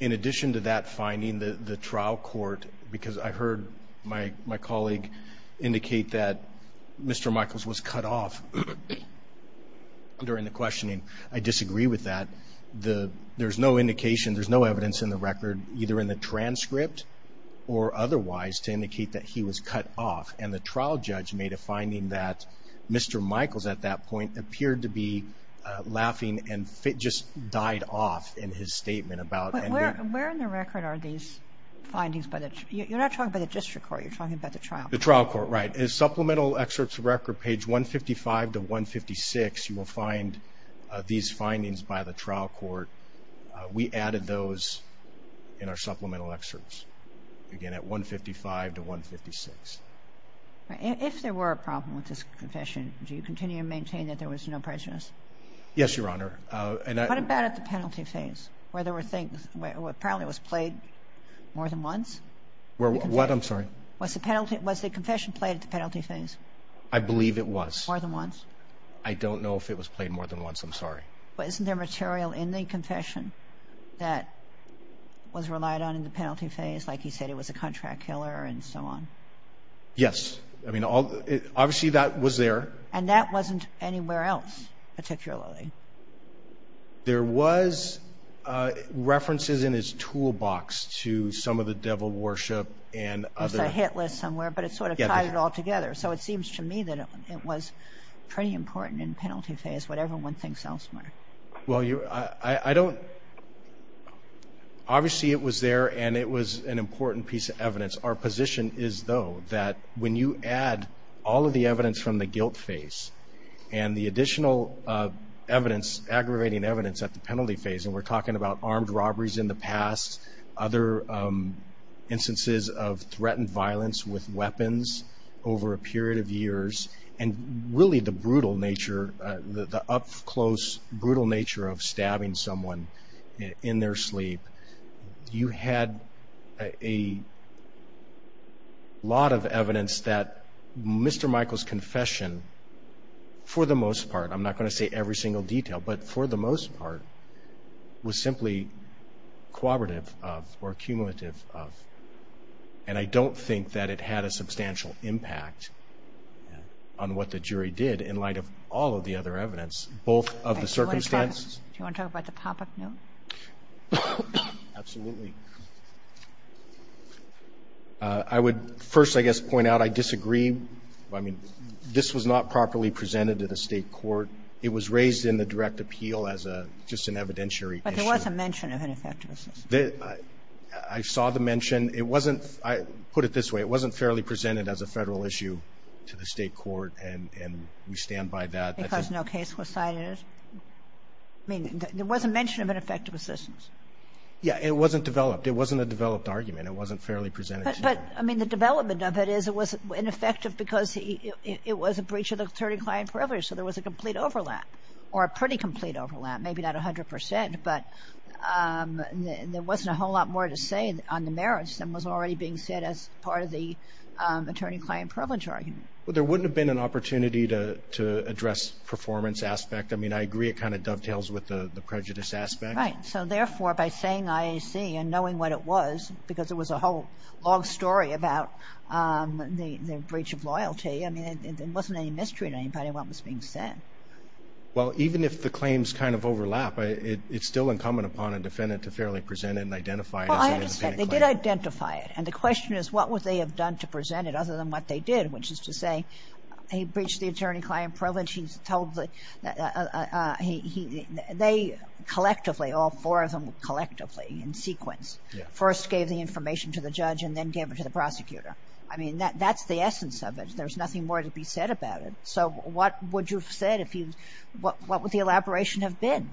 in addition to that finding, the trial court, because I heard my colleague indicate that Mr. Michaels was cut off during the questioning. I disagree with that. There's no indication, there's no evidence in the record, either in the transcript or otherwise, to indicate that he was cut off. And the trial judge made a finding that Mr. Michaels, at that point, appeared to be laughing and just died off in his statement about... Where in the record are these findings by the, you're not talking about the district court, you're talking about the trial court. The trial court, right. In supplemental excerpts of record, page 155 to 156, you will find these findings by the trial court. We added those in our supplemental excerpts, again, at 155 to 156. If there were a problem with this confession, do you continue to maintain that there was no prejudice? Yes, Your Honor. What about at the penalty phase? Where there were things, where apparently it was played more than once? What? I'm sorry. Was the confession played at the penalty phase? I believe it was. More than once? I don't know if it was played more than once. I'm sorry. But isn't there material in the confession that was relied on in the penalty phase? Like you said, it was a contract killer and so on. Yes. I mean, obviously, that was there. And that wasn't anywhere else, particularly. There was references in his toolbox to some of the devil worship and other... There's a hit list somewhere, but it sort of ties it all together. So it seems to me that it was pretty important in penalty phase, whatever one thinks elsewhere. Well, I don't... Obviously, it was there and it was an important piece of evidence. Our position is, though, that when you add all of the evidence from the guilt phase and the additional evidence, aggravating evidence at the penalty phase, and we're talking about armed robberies in the past, other instances of threatened violence with weapons over a period of years, and really the brutal nature, the up-close, brutal nature of stabbing someone in their sleep, you had a lot of evidence that Mr. Michael's confession, for the most part, I'm not going to say every single detail, but for the most part, was simply cooperative of or cumulative of. And I don't think that it had a substantial impact on what the jury did in light of all of the other evidence, both of the circumstances... Do you want to talk about the pop-up note? Absolutely. I would first, I guess, point out I disagree. I mean, this was not properly presented to the State court. It was raised in the direct appeal as a just an evidentiary issue. But there was a mention of ineffective assistance. The – I saw the mention. It wasn't – I put it this way. It wasn't fairly presented as a Federal issue to the State court, and we stand by that. Because no case was cited. I mean, there was a mention of ineffective assistance. Yeah, it wasn't developed. It wasn't a developed argument. It wasn't fairly presented. But, I mean, the development of it is it was ineffective because it was a breach of the attorney-client privilege. So there was a complete overlap, or a pretty complete overlap, maybe not 100 percent. But there wasn't a whole lot more to say on the merits than was already being said as part of the attorney-client privilege argument. Well, there wouldn't have been an opportunity to address performance aspect. I mean, I agree it kind of dovetails with the prejudice aspect. Right. So, therefore, by saying IAC and knowing what it was, because it was a whole long story about the breach of loyalty, I mean, it wasn't any mystery to anybody what was being said. Well, even if the claims kind of overlap, it's still incumbent upon a defendant to fairly present it and identify it as an attorney-client. Well, I understand. They did identify it. And the question is what would they have done to present it other than what they did, which is to say he breached the attorney-client privilege. He's told that they collectively, all four of them collectively in sequence, first gave the information to the judge and then gave it to the prosecutor. I mean, that's the essence of it. There's nothing more to be said about it. So what would you have said if you, what would the elaboration have been?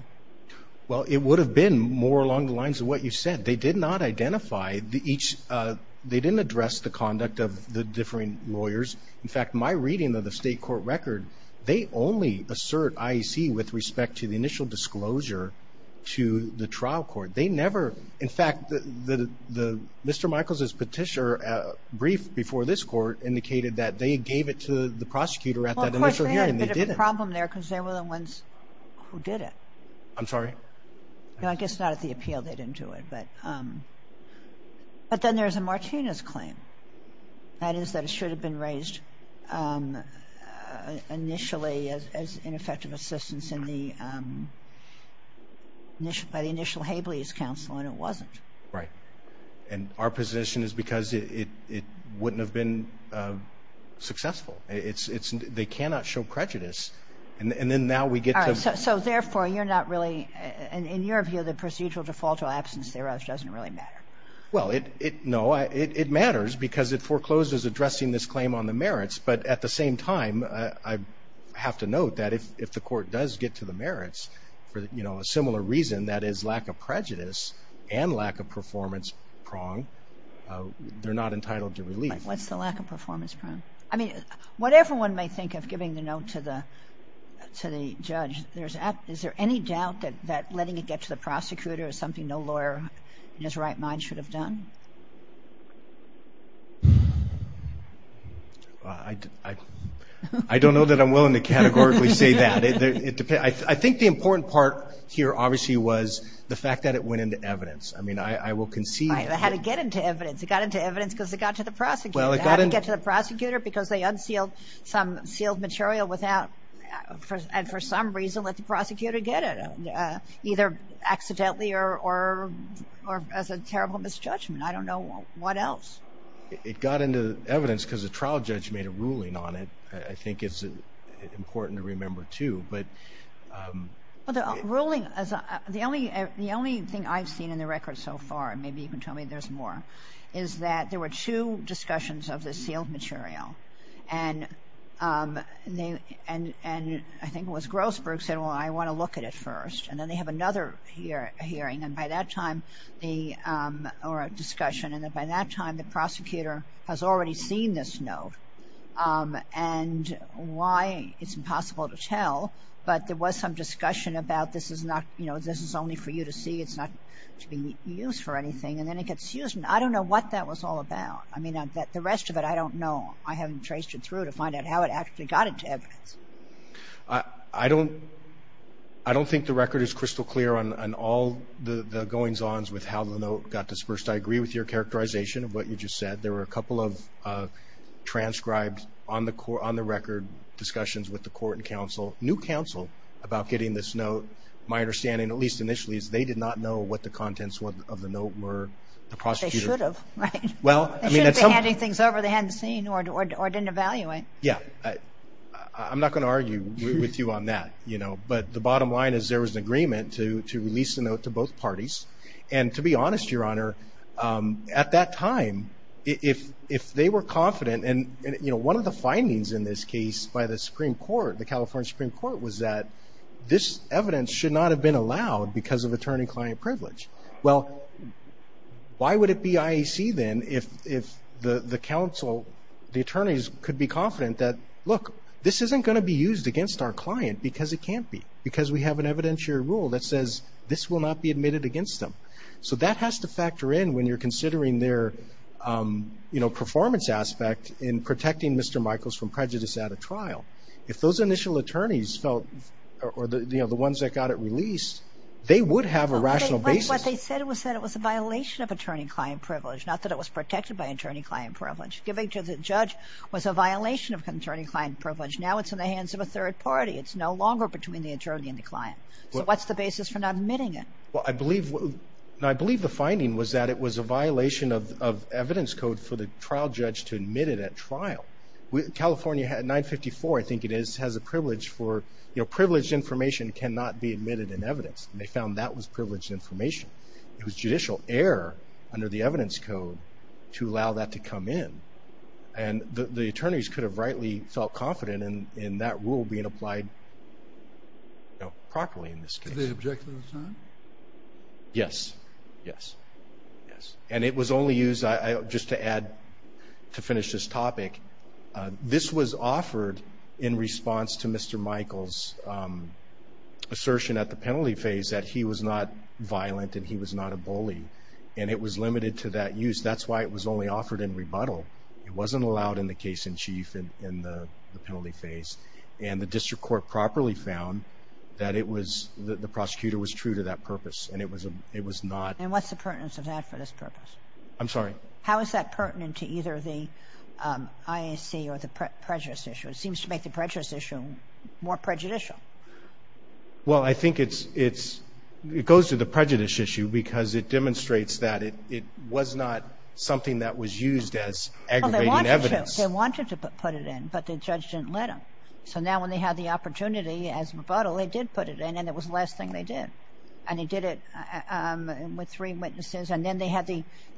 Well, it would have been more along the lines of what you said. They did not identify each. They didn't address the conduct of the different lawyers. In fact, my reading of the state court record, they only assert IEC with respect to the initial disclosure to the trial court. They never, in fact, Mr. Michaels' petitioner brief before this court indicated that they gave it to the prosecutor at that initial hearing. They didn't. Well, of course, they had a bit of a problem there because they were the ones who did it. I'm sorry? No, I guess not at the appeal. They didn't do it. But then there's a Martinez claim. That is that it should have been raised initially as ineffective assistance by the initial Habley's counsel, and it wasn't. Right. And our position is because it wouldn't have been successful. They cannot show prejudice. And then now we get to... All right. So therefore, you're not really, in your view, the procedural default or absence thereof doesn't really matter. Well, no, it matters. Because it forecloses addressing this claim on the merits. But at the same time, I have to note that if the court does get to the merits for a similar reason, that is lack of prejudice and lack of performance prong, they're not entitled to relief. What's the lack of performance prong? I mean, whatever one may think of giving the note to the judge, is there any doubt that letting it get to the prosecutor is something no lawyer in his right mind should have done? I don't know that I'm willing to categorically say that. I think the important part here, obviously, was the fact that it went into evidence. I mean, I will concede... It had to get into evidence. It got into evidence because it got to the prosecutor. It had to get to the prosecutor because they unsealed some sealed material without... And for some reason, let the prosecutor get it, either accidentally or as a terrible misjudgment. I don't know what else. It got into evidence because the trial judge made a ruling on it. I think it's important to remember too, but... Well, the ruling... The only thing I've seen in the record so far, and maybe you can tell me there's more, is that there were two discussions of the sealed material. And I think it was Grossberg said, well, I want to look at it first. And then they have another hearing. And by that time, or a discussion. And by that time, the prosecutor has already seen this note. And why, it's impossible to tell. But there was some discussion about this is not... You know, this is only for you to see. It's not to be used for anything. And then it gets used. And I don't know what that was all about. I mean, the rest of it, I don't know. I haven't traced it through to find out how it actually got into evidence. I don't think the record is crystal clear on all the goings-ons with how the note got dispersed. I agree with your characterization of what you just said. There were a couple of transcribed on the record discussions with the court and counsel, new counsel, about getting this note. My understanding, at least initially, is they did not know what the contents of the note were. The prosecutor... They should have, right? Well, I mean... They shouldn't be handing things over they hadn't seen or didn't evaluate. Yeah, I'm not going to argue with you on that, you know. But the bottom line is there was an agreement to release the note to both parties. And to be honest, Your Honor, at that time, if they were confident... And, you know, one of the findings in this case by the Supreme Court, the California Supreme Court, was that this evidence should not have been allowed because of attorney-client privilege. Well, why would it be IAC then if the counsel, the attorneys could be confident that, look, this isn't going to be used against our client because it can't be. Because we have an evidentiary rule that says this will not be admitted against them. So that has to factor in when you're considering their performance aspect in protecting Mr. Michaels from prejudice at a trial. If those initial attorneys felt, or the ones that got it released, they would have a rational basis. But what they said was that it was a violation of attorney-client privilege, not that it was protected by attorney-client privilege. Giving to the judge was a violation of attorney-client privilege. Now it's in the hands of a third party. It's no longer between the attorney and the client. So what's the basis for not admitting it? Well, I believe the finding was that it was a violation of evidence code for the trial judge to admit it at trial. California 954, I think it is, has a privilege for, you know, privileged information cannot be admitted in evidence. They found that was privileged information. It was judicial error under the evidence code to allow that to come in. And the attorneys could have rightly felt confident in that rule being applied, you know, properly in this case. Did they object to the time? Yes. Yes. Yes. And it was only used, just to add, to finish this topic, this was offered in response to Mr. Michaels' assertion at the penalty phase that he was not violent and he was not a bully. And it was limited to that use. That's why it was only offered in rebuttal. It wasn't allowed in the case in chief in the penalty phase. And the district court properly found that it was, the prosecutor was true to that purpose. And it was not. And what's the pertinence of that for this purpose? I'm sorry? How is that pertinent to either the IAC or the prejudice issue? It seems to make the prejudice issue more prejudicial. Well, I think it's, it goes to the prejudice issue because it demonstrates that it was not something that was used as aggravating evidence. They wanted to put it in, but the judge didn't let them. So now when they had the opportunity as rebuttal, they did put it in and it was the last thing they did. And he did it with three witnesses. And then they had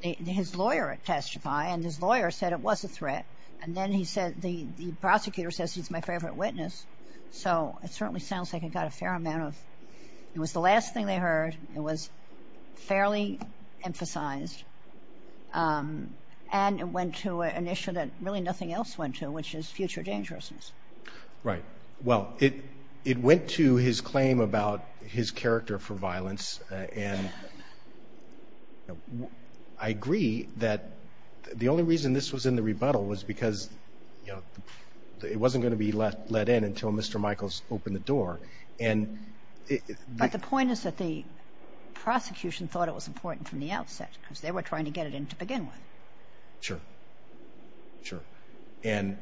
his lawyer testify. And his lawyer said it was a threat. And then he said, the prosecutor says he's my favorite witness. So it certainly sounds like it got a fair amount of, it was the last thing they heard. It was fairly emphasized. And it went to an issue that really nothing else went to, which is future dangerousness. Right. Well, it went to his claim about his character for violence. And I agree that the only reason this was in the rebuttal was because it wasn't going to be let in until Mr. Michaels opened the door. But the point is that the prosecution thought it was important from the outset because they were trying to get it in to begin with. Sure, sure. And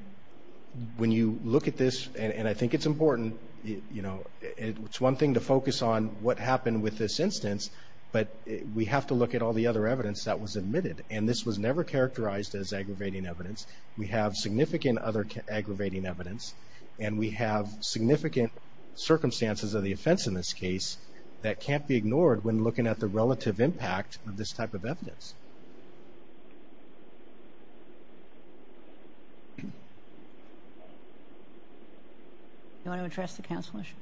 when you look at this, and I think it's important, you know, it's one thing to focus on what happened with this instance, but we have to look at all the other evidence that was admitted. And this was never characterized as aggravating evidence. We have significant other aggravating evidence. And we have significant circumstances of the offense in this case that can't be ignored when looking at the relative impact of this type of evidence. Do you want to address the counsel issues?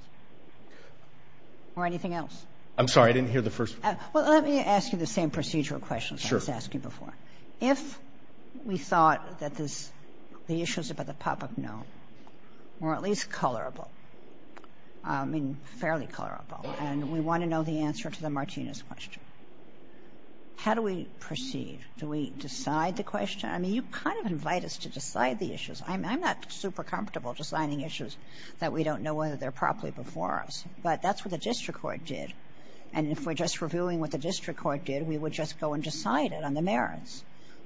Or anything else? I'm sorry, I didn't hear the first. Well, let me ask you the same procedural questions I was asking before. If we thought that the issues about the pop-up note were at least colorable, I mean, fairly colorable, and we want to know the answer to the Martinez question. How do we proceed? Do we decide the question? I mean, you kind of invite us to decide the issues. I'm not super comfortable deciding issues that we don't know whether they're properly before us. But that's what the district court did. And if we're just reviewing what the district court did, we would just go and decide it on the merits.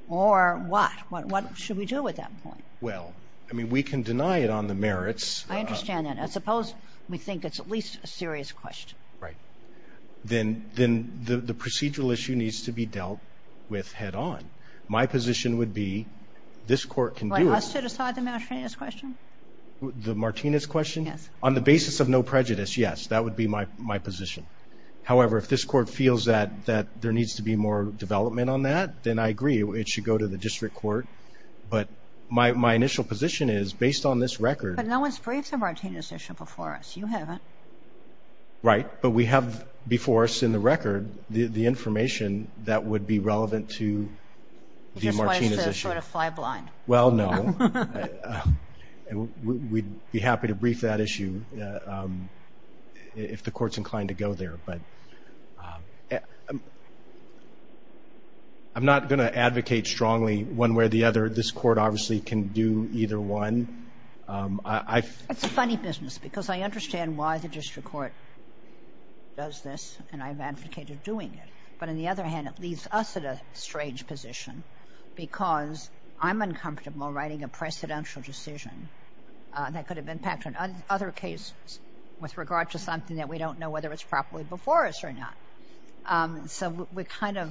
Or what? What should we do at that point? Well, I mean, we can deny it on the merits. I understand that. I suppose we think it's at least a serious question. Right. Then the procedural issue needs to be dealt with head-on. My position would be this court can do it. For us to decide the Martinez question? The Martinez question? Yes. On the basis of no prejudice, yes. That would be my position. However, if this court feels that there needs to be more development on that, then I agree. It should go to the district court. But my initial position is, based on this record... But no one's briefed the Martinez issue before us. You haven't. Right. But we have before us in the record the information that would be relevant to the Martinez issue. Just wanted to sort of fly blind. Well, no. We'd be happy to brief that issue if the court's inclined to go there. But I'm not going to advocate strongly one way or the other. This court obviously can do either one. It's a funny business because I understand why the district court does this, and I've advocated doing it. But on the other hand, it leaves us at a strange position because I'm uncomfortable writing a precedential decision that could have impact on other cases with regard to something that we don't know whether it's properly before us or not. So we kind of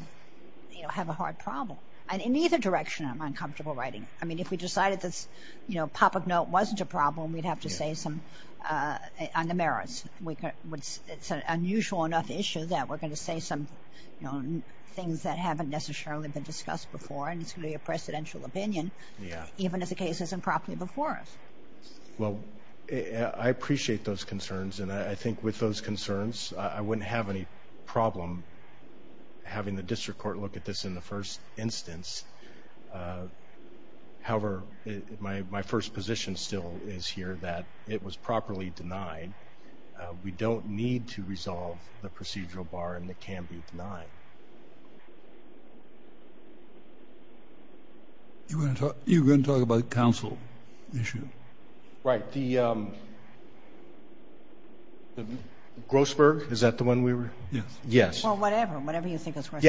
have a hard problem. And in either direction, I'm uncomfortable writing it. I mean, if we decided this pop-up note wasn't a problem, we'd have to say some on the merits. It's an unusual enough issue that we're going to say some things that haven't necessarily been discussed before, and it's going to be a precedential opinion, even if the case isn't properly before us. Well, I appreciate those concerns. And I think with those concerns, I wouldn't have any problem having the district court look at this in the first instance. However, my first position still is here that it was properly denied. We don't need to resolve the procedural bar, and it can be denied. You were going to talk about the council issue. Right. The Grossberg, is that the one we were? Yes. Yes. Well, whatever, whatever you think is right.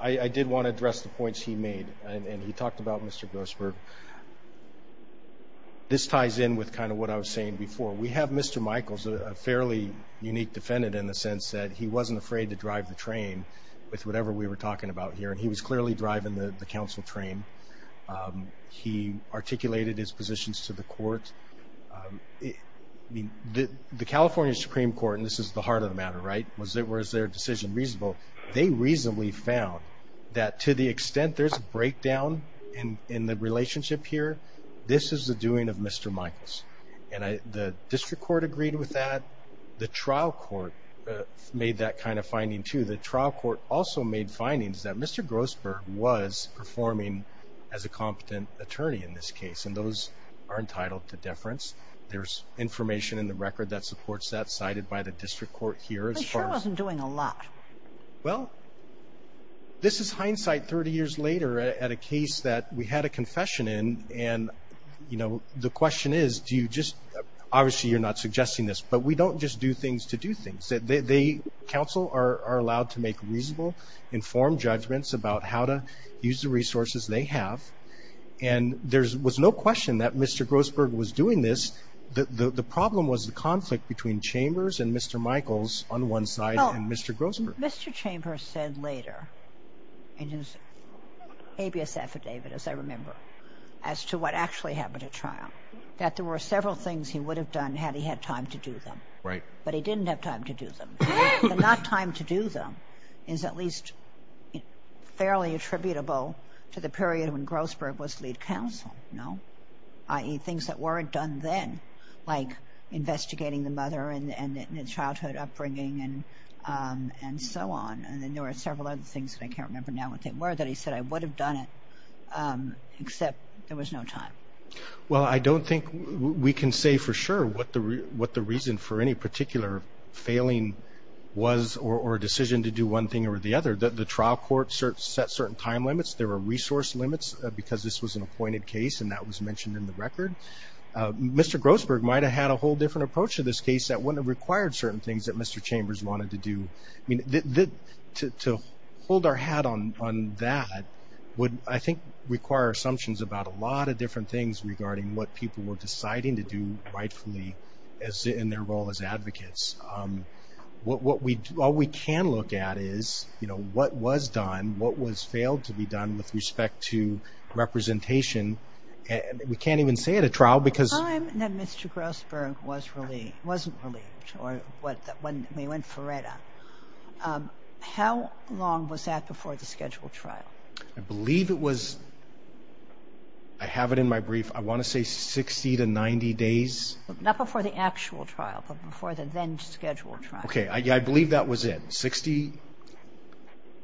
I did want to address the points he made, and he talked about Mr. Grossberg. This ties in with kind of what I was saying before. We have Mr. Michaels, a fairly unique defendant in the sense that he wasn't afraid to drive the train with whatever we were talking about here. And he was clearly driving the council train. He articulated his positions to the court. The California Supreme Court, and this is the heart of the matter, right? Was their decision reasonable? They reasonably found that to the extent there's a breakdown in the relationship here, this is the doing of Mr. Michaels. And the district court agreed with that. The trial court made that kind of finding too. The trial court also made findings that Mr. Grossberg was performing as a competent attorney in this case, and those are entitled to deference. There's information in the record that supports that cited by the district court here. He sure wasn't doing a lot. Well, this is hindsight 30 years later at a case that we had a confession in. And the question is, obviously you're not suggesting this, but we don't just do things to do things. Council are allowed to make reasonable, informed judgments about how to use the resources they have. And there was no question that Mr. Grossberg was doing this. The problem was the conflict between Chambers and Mr. Michaels on one side and Mr. Grossberg. Mr. Chambers said later in his habeas affidavit, as I remember, as to what actually happened at trial, that there were several things he would have done had he had time to do them. Right. But he didn't have time to do them. The not time to do them is at least fairly attributable to the period when Grossberg was lead counsel, no? I.e. things that weren't done then, like investigating the mother and the childhood upbringing and so on. And then there were several other things that I can't remember now what they were that he said I would have done it except there was no time. Well, I don't think we can say for sure what the reason for any particular failing was or a decision to do one thing or the other. The trial court set certain time limits. There were resource limits because this was an appointed case and that was mentioned in the record. Mr. Grossberg might have had a whole different approach to this case that wouldn't have required certain things that Mr. Chambers wanted to do. I mean, to hold our hat on that would, I think, require assumptions about a lot of different things regarding what people were deciding to do rightfully as in their role as advocates. All we can look at is, you know, what was done, what was failed to be done with respect to representation. We can't even say it a trial because... The time that Mr. Grossberg was relieved, wasn't relieved, or when they went for RETA, how long was that before the scheduled trial? I believe it was, I have it in my brief, I want to say 60 to 90 days. Not before the actual trial, but before the then scheduled trial. Okay, I believe that was it. 60,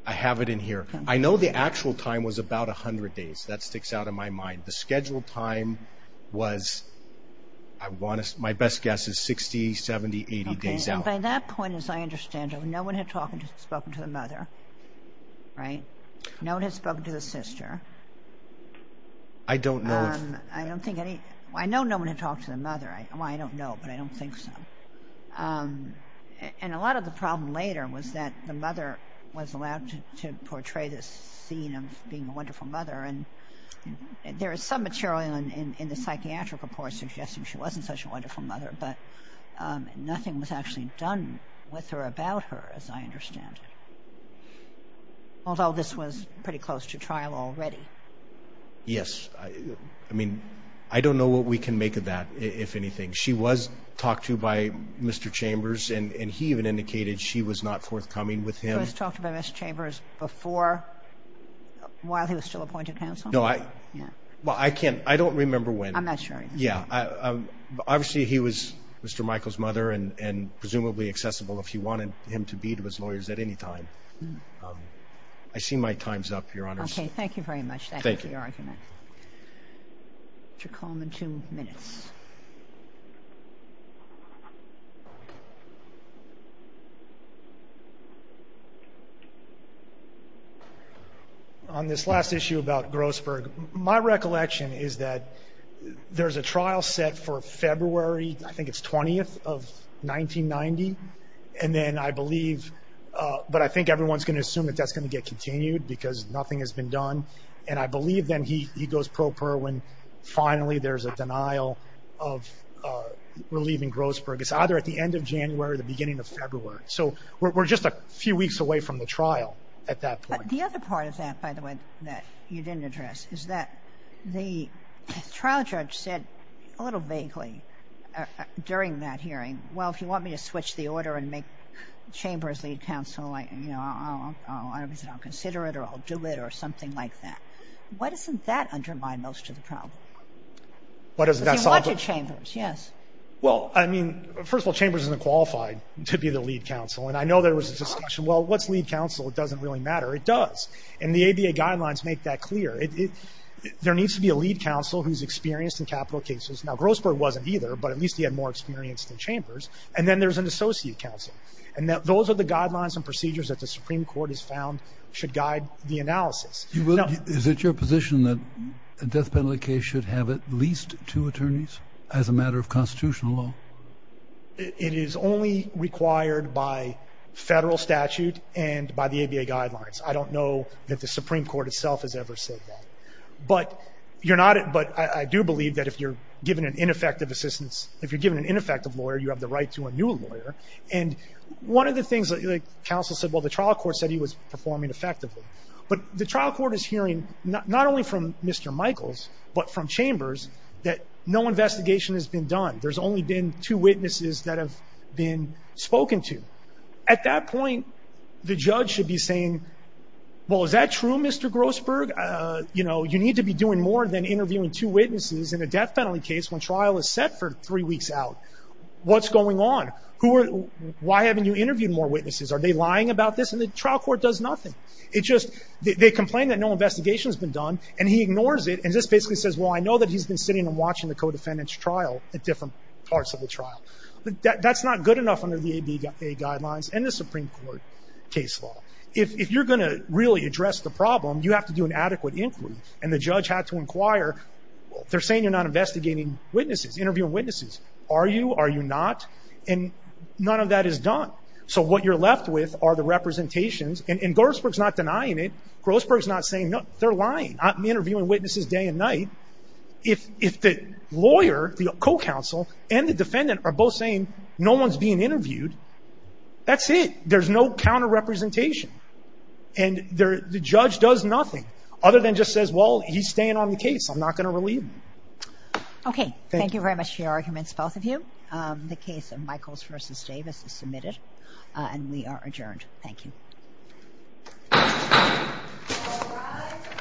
I have it in here. I know the actual time was about 100 days. That sticks out in my mind. The scheduled time was, my best guess is 60, 70, 80 days out. By that point, as I understand it, no one had spoken to the mother, right? No one had spoken to the sister. I don't know. I know no one had talked to the mother. I don't know, but I don't think so. And a lot of the problem later was that the mother was allowed to portray this scene of being a wonderful mother. And there is some material in the psychiatric report suggesting she wasn't such a wonderful mother, but nothing was actually done with her, about her, as I understand it. Although this was pretty close to trial already. Yes, I mean, I don't know what we can make of that, if anything. She was talked to by Mr. Chambers, and he even indicated she was not forthcoming with him. She was talked to by Mr. Chambers before, while he was still appointed counsel? No, I can't. I don't remember when. I'm not sure. Yeah. Obviously, he was Mr. Michael's mother and presumably accessible if he wanted him to be to his lawyers at any time. I see my time's up, Your Honor. Okay, thank you very much. Thank you for your argument. Mr. Coleman, two minutes. Okay. On this last issue about Grossberg, my recollection is that there's a trial set for February, I think it's 20th of 1990. And then I believe, but I think everyone's going to assume that that's going to get continued, because nothing has been done. And I believe then he goes pro per when finally there's a denial of relieving Grossberg. It's either at the end of January or the beginning of February. So we're just a few weeks away from the trial at that point. The other part of that, by the way, that you didn't address, is that the trial judge said a little vaguely during that hearing, well, if you want me to switch the order and make Chambers lead counsel, you know, I'll consider it or I'll do it or something like that. Why doesn't that undermine most of the problem? Why doesn't that solve it? If you wanted Chambers, yes. Well, I mean, first of all, Chambers isn't qualified to be the lead counsel. And I know there was a discussion, well, what's lead counsel? It doesn't really matter. It does. And the ABA guidelines make that clear. There needs to be a lead counsel who's experienced in capital cases. Now, Grossberg wasn't either, but at least he had more experience than Chambers. And then there's an associate counsel. And those are the guidelines and procedures that the Supreme Court has found should guide the analysis. Is it your position that a death penalty case should have at least two attorneys as a matter of constitutional law? It is only required by federal statute and by the ABA guidelines. I don't know that the Supreme Court itself has ever said that. But I do believe that if you're given an ineffective assistance, if you're given an ineffective lawyer, you have the right to a new lawyer. And one of the things that counsel said, well, the trial court said he was performing effectively. But the trial court is hearing not only from Mr. Michaels, but from Chambers, that no investigation has been done. There's only been two witnesses that have been spoken to. At that point, the judge should be saying, well, is that true, Mr. Grossberg? You know, you need to be doing more than interviewing two witnesses in a death penalty case when trial is set for three weeks out. What's going on? Why haven't you interviewed more witnesses? Are they lying about this? And the trial court does nothing. It's just they complain that no investigation has been done. And he ignores it. And just basically says, well, I know that he's been sitting and watching the co-defendant's trial at different parts of the trial. That's not good enough under the ABA guidelines and the Supreme Court case law. If you're going to really address the problem, you have to do an adequate inquiry. And the judge had to inquire. They're saying you're not investigating witnesses, interviewing witnesses. Are you? Are you not? And none of that is done. So what you're left with are the representations. And Grossberg's not denying it. Grossberg's not saying, no, they're lying. I'm interviewing witnesses day and night. If the lawyer, the co-counsel, and the defendant are both saying no one's being interviewed, that's it. There's no counter-representation. And the judge does nothing other than just says, well, he's staying on the case. I'm not going to relieve him. OK. Thank you very much for your arguments, both of you. The case of Michaels v. Davis is submitted. And we are adjourned. Thank you.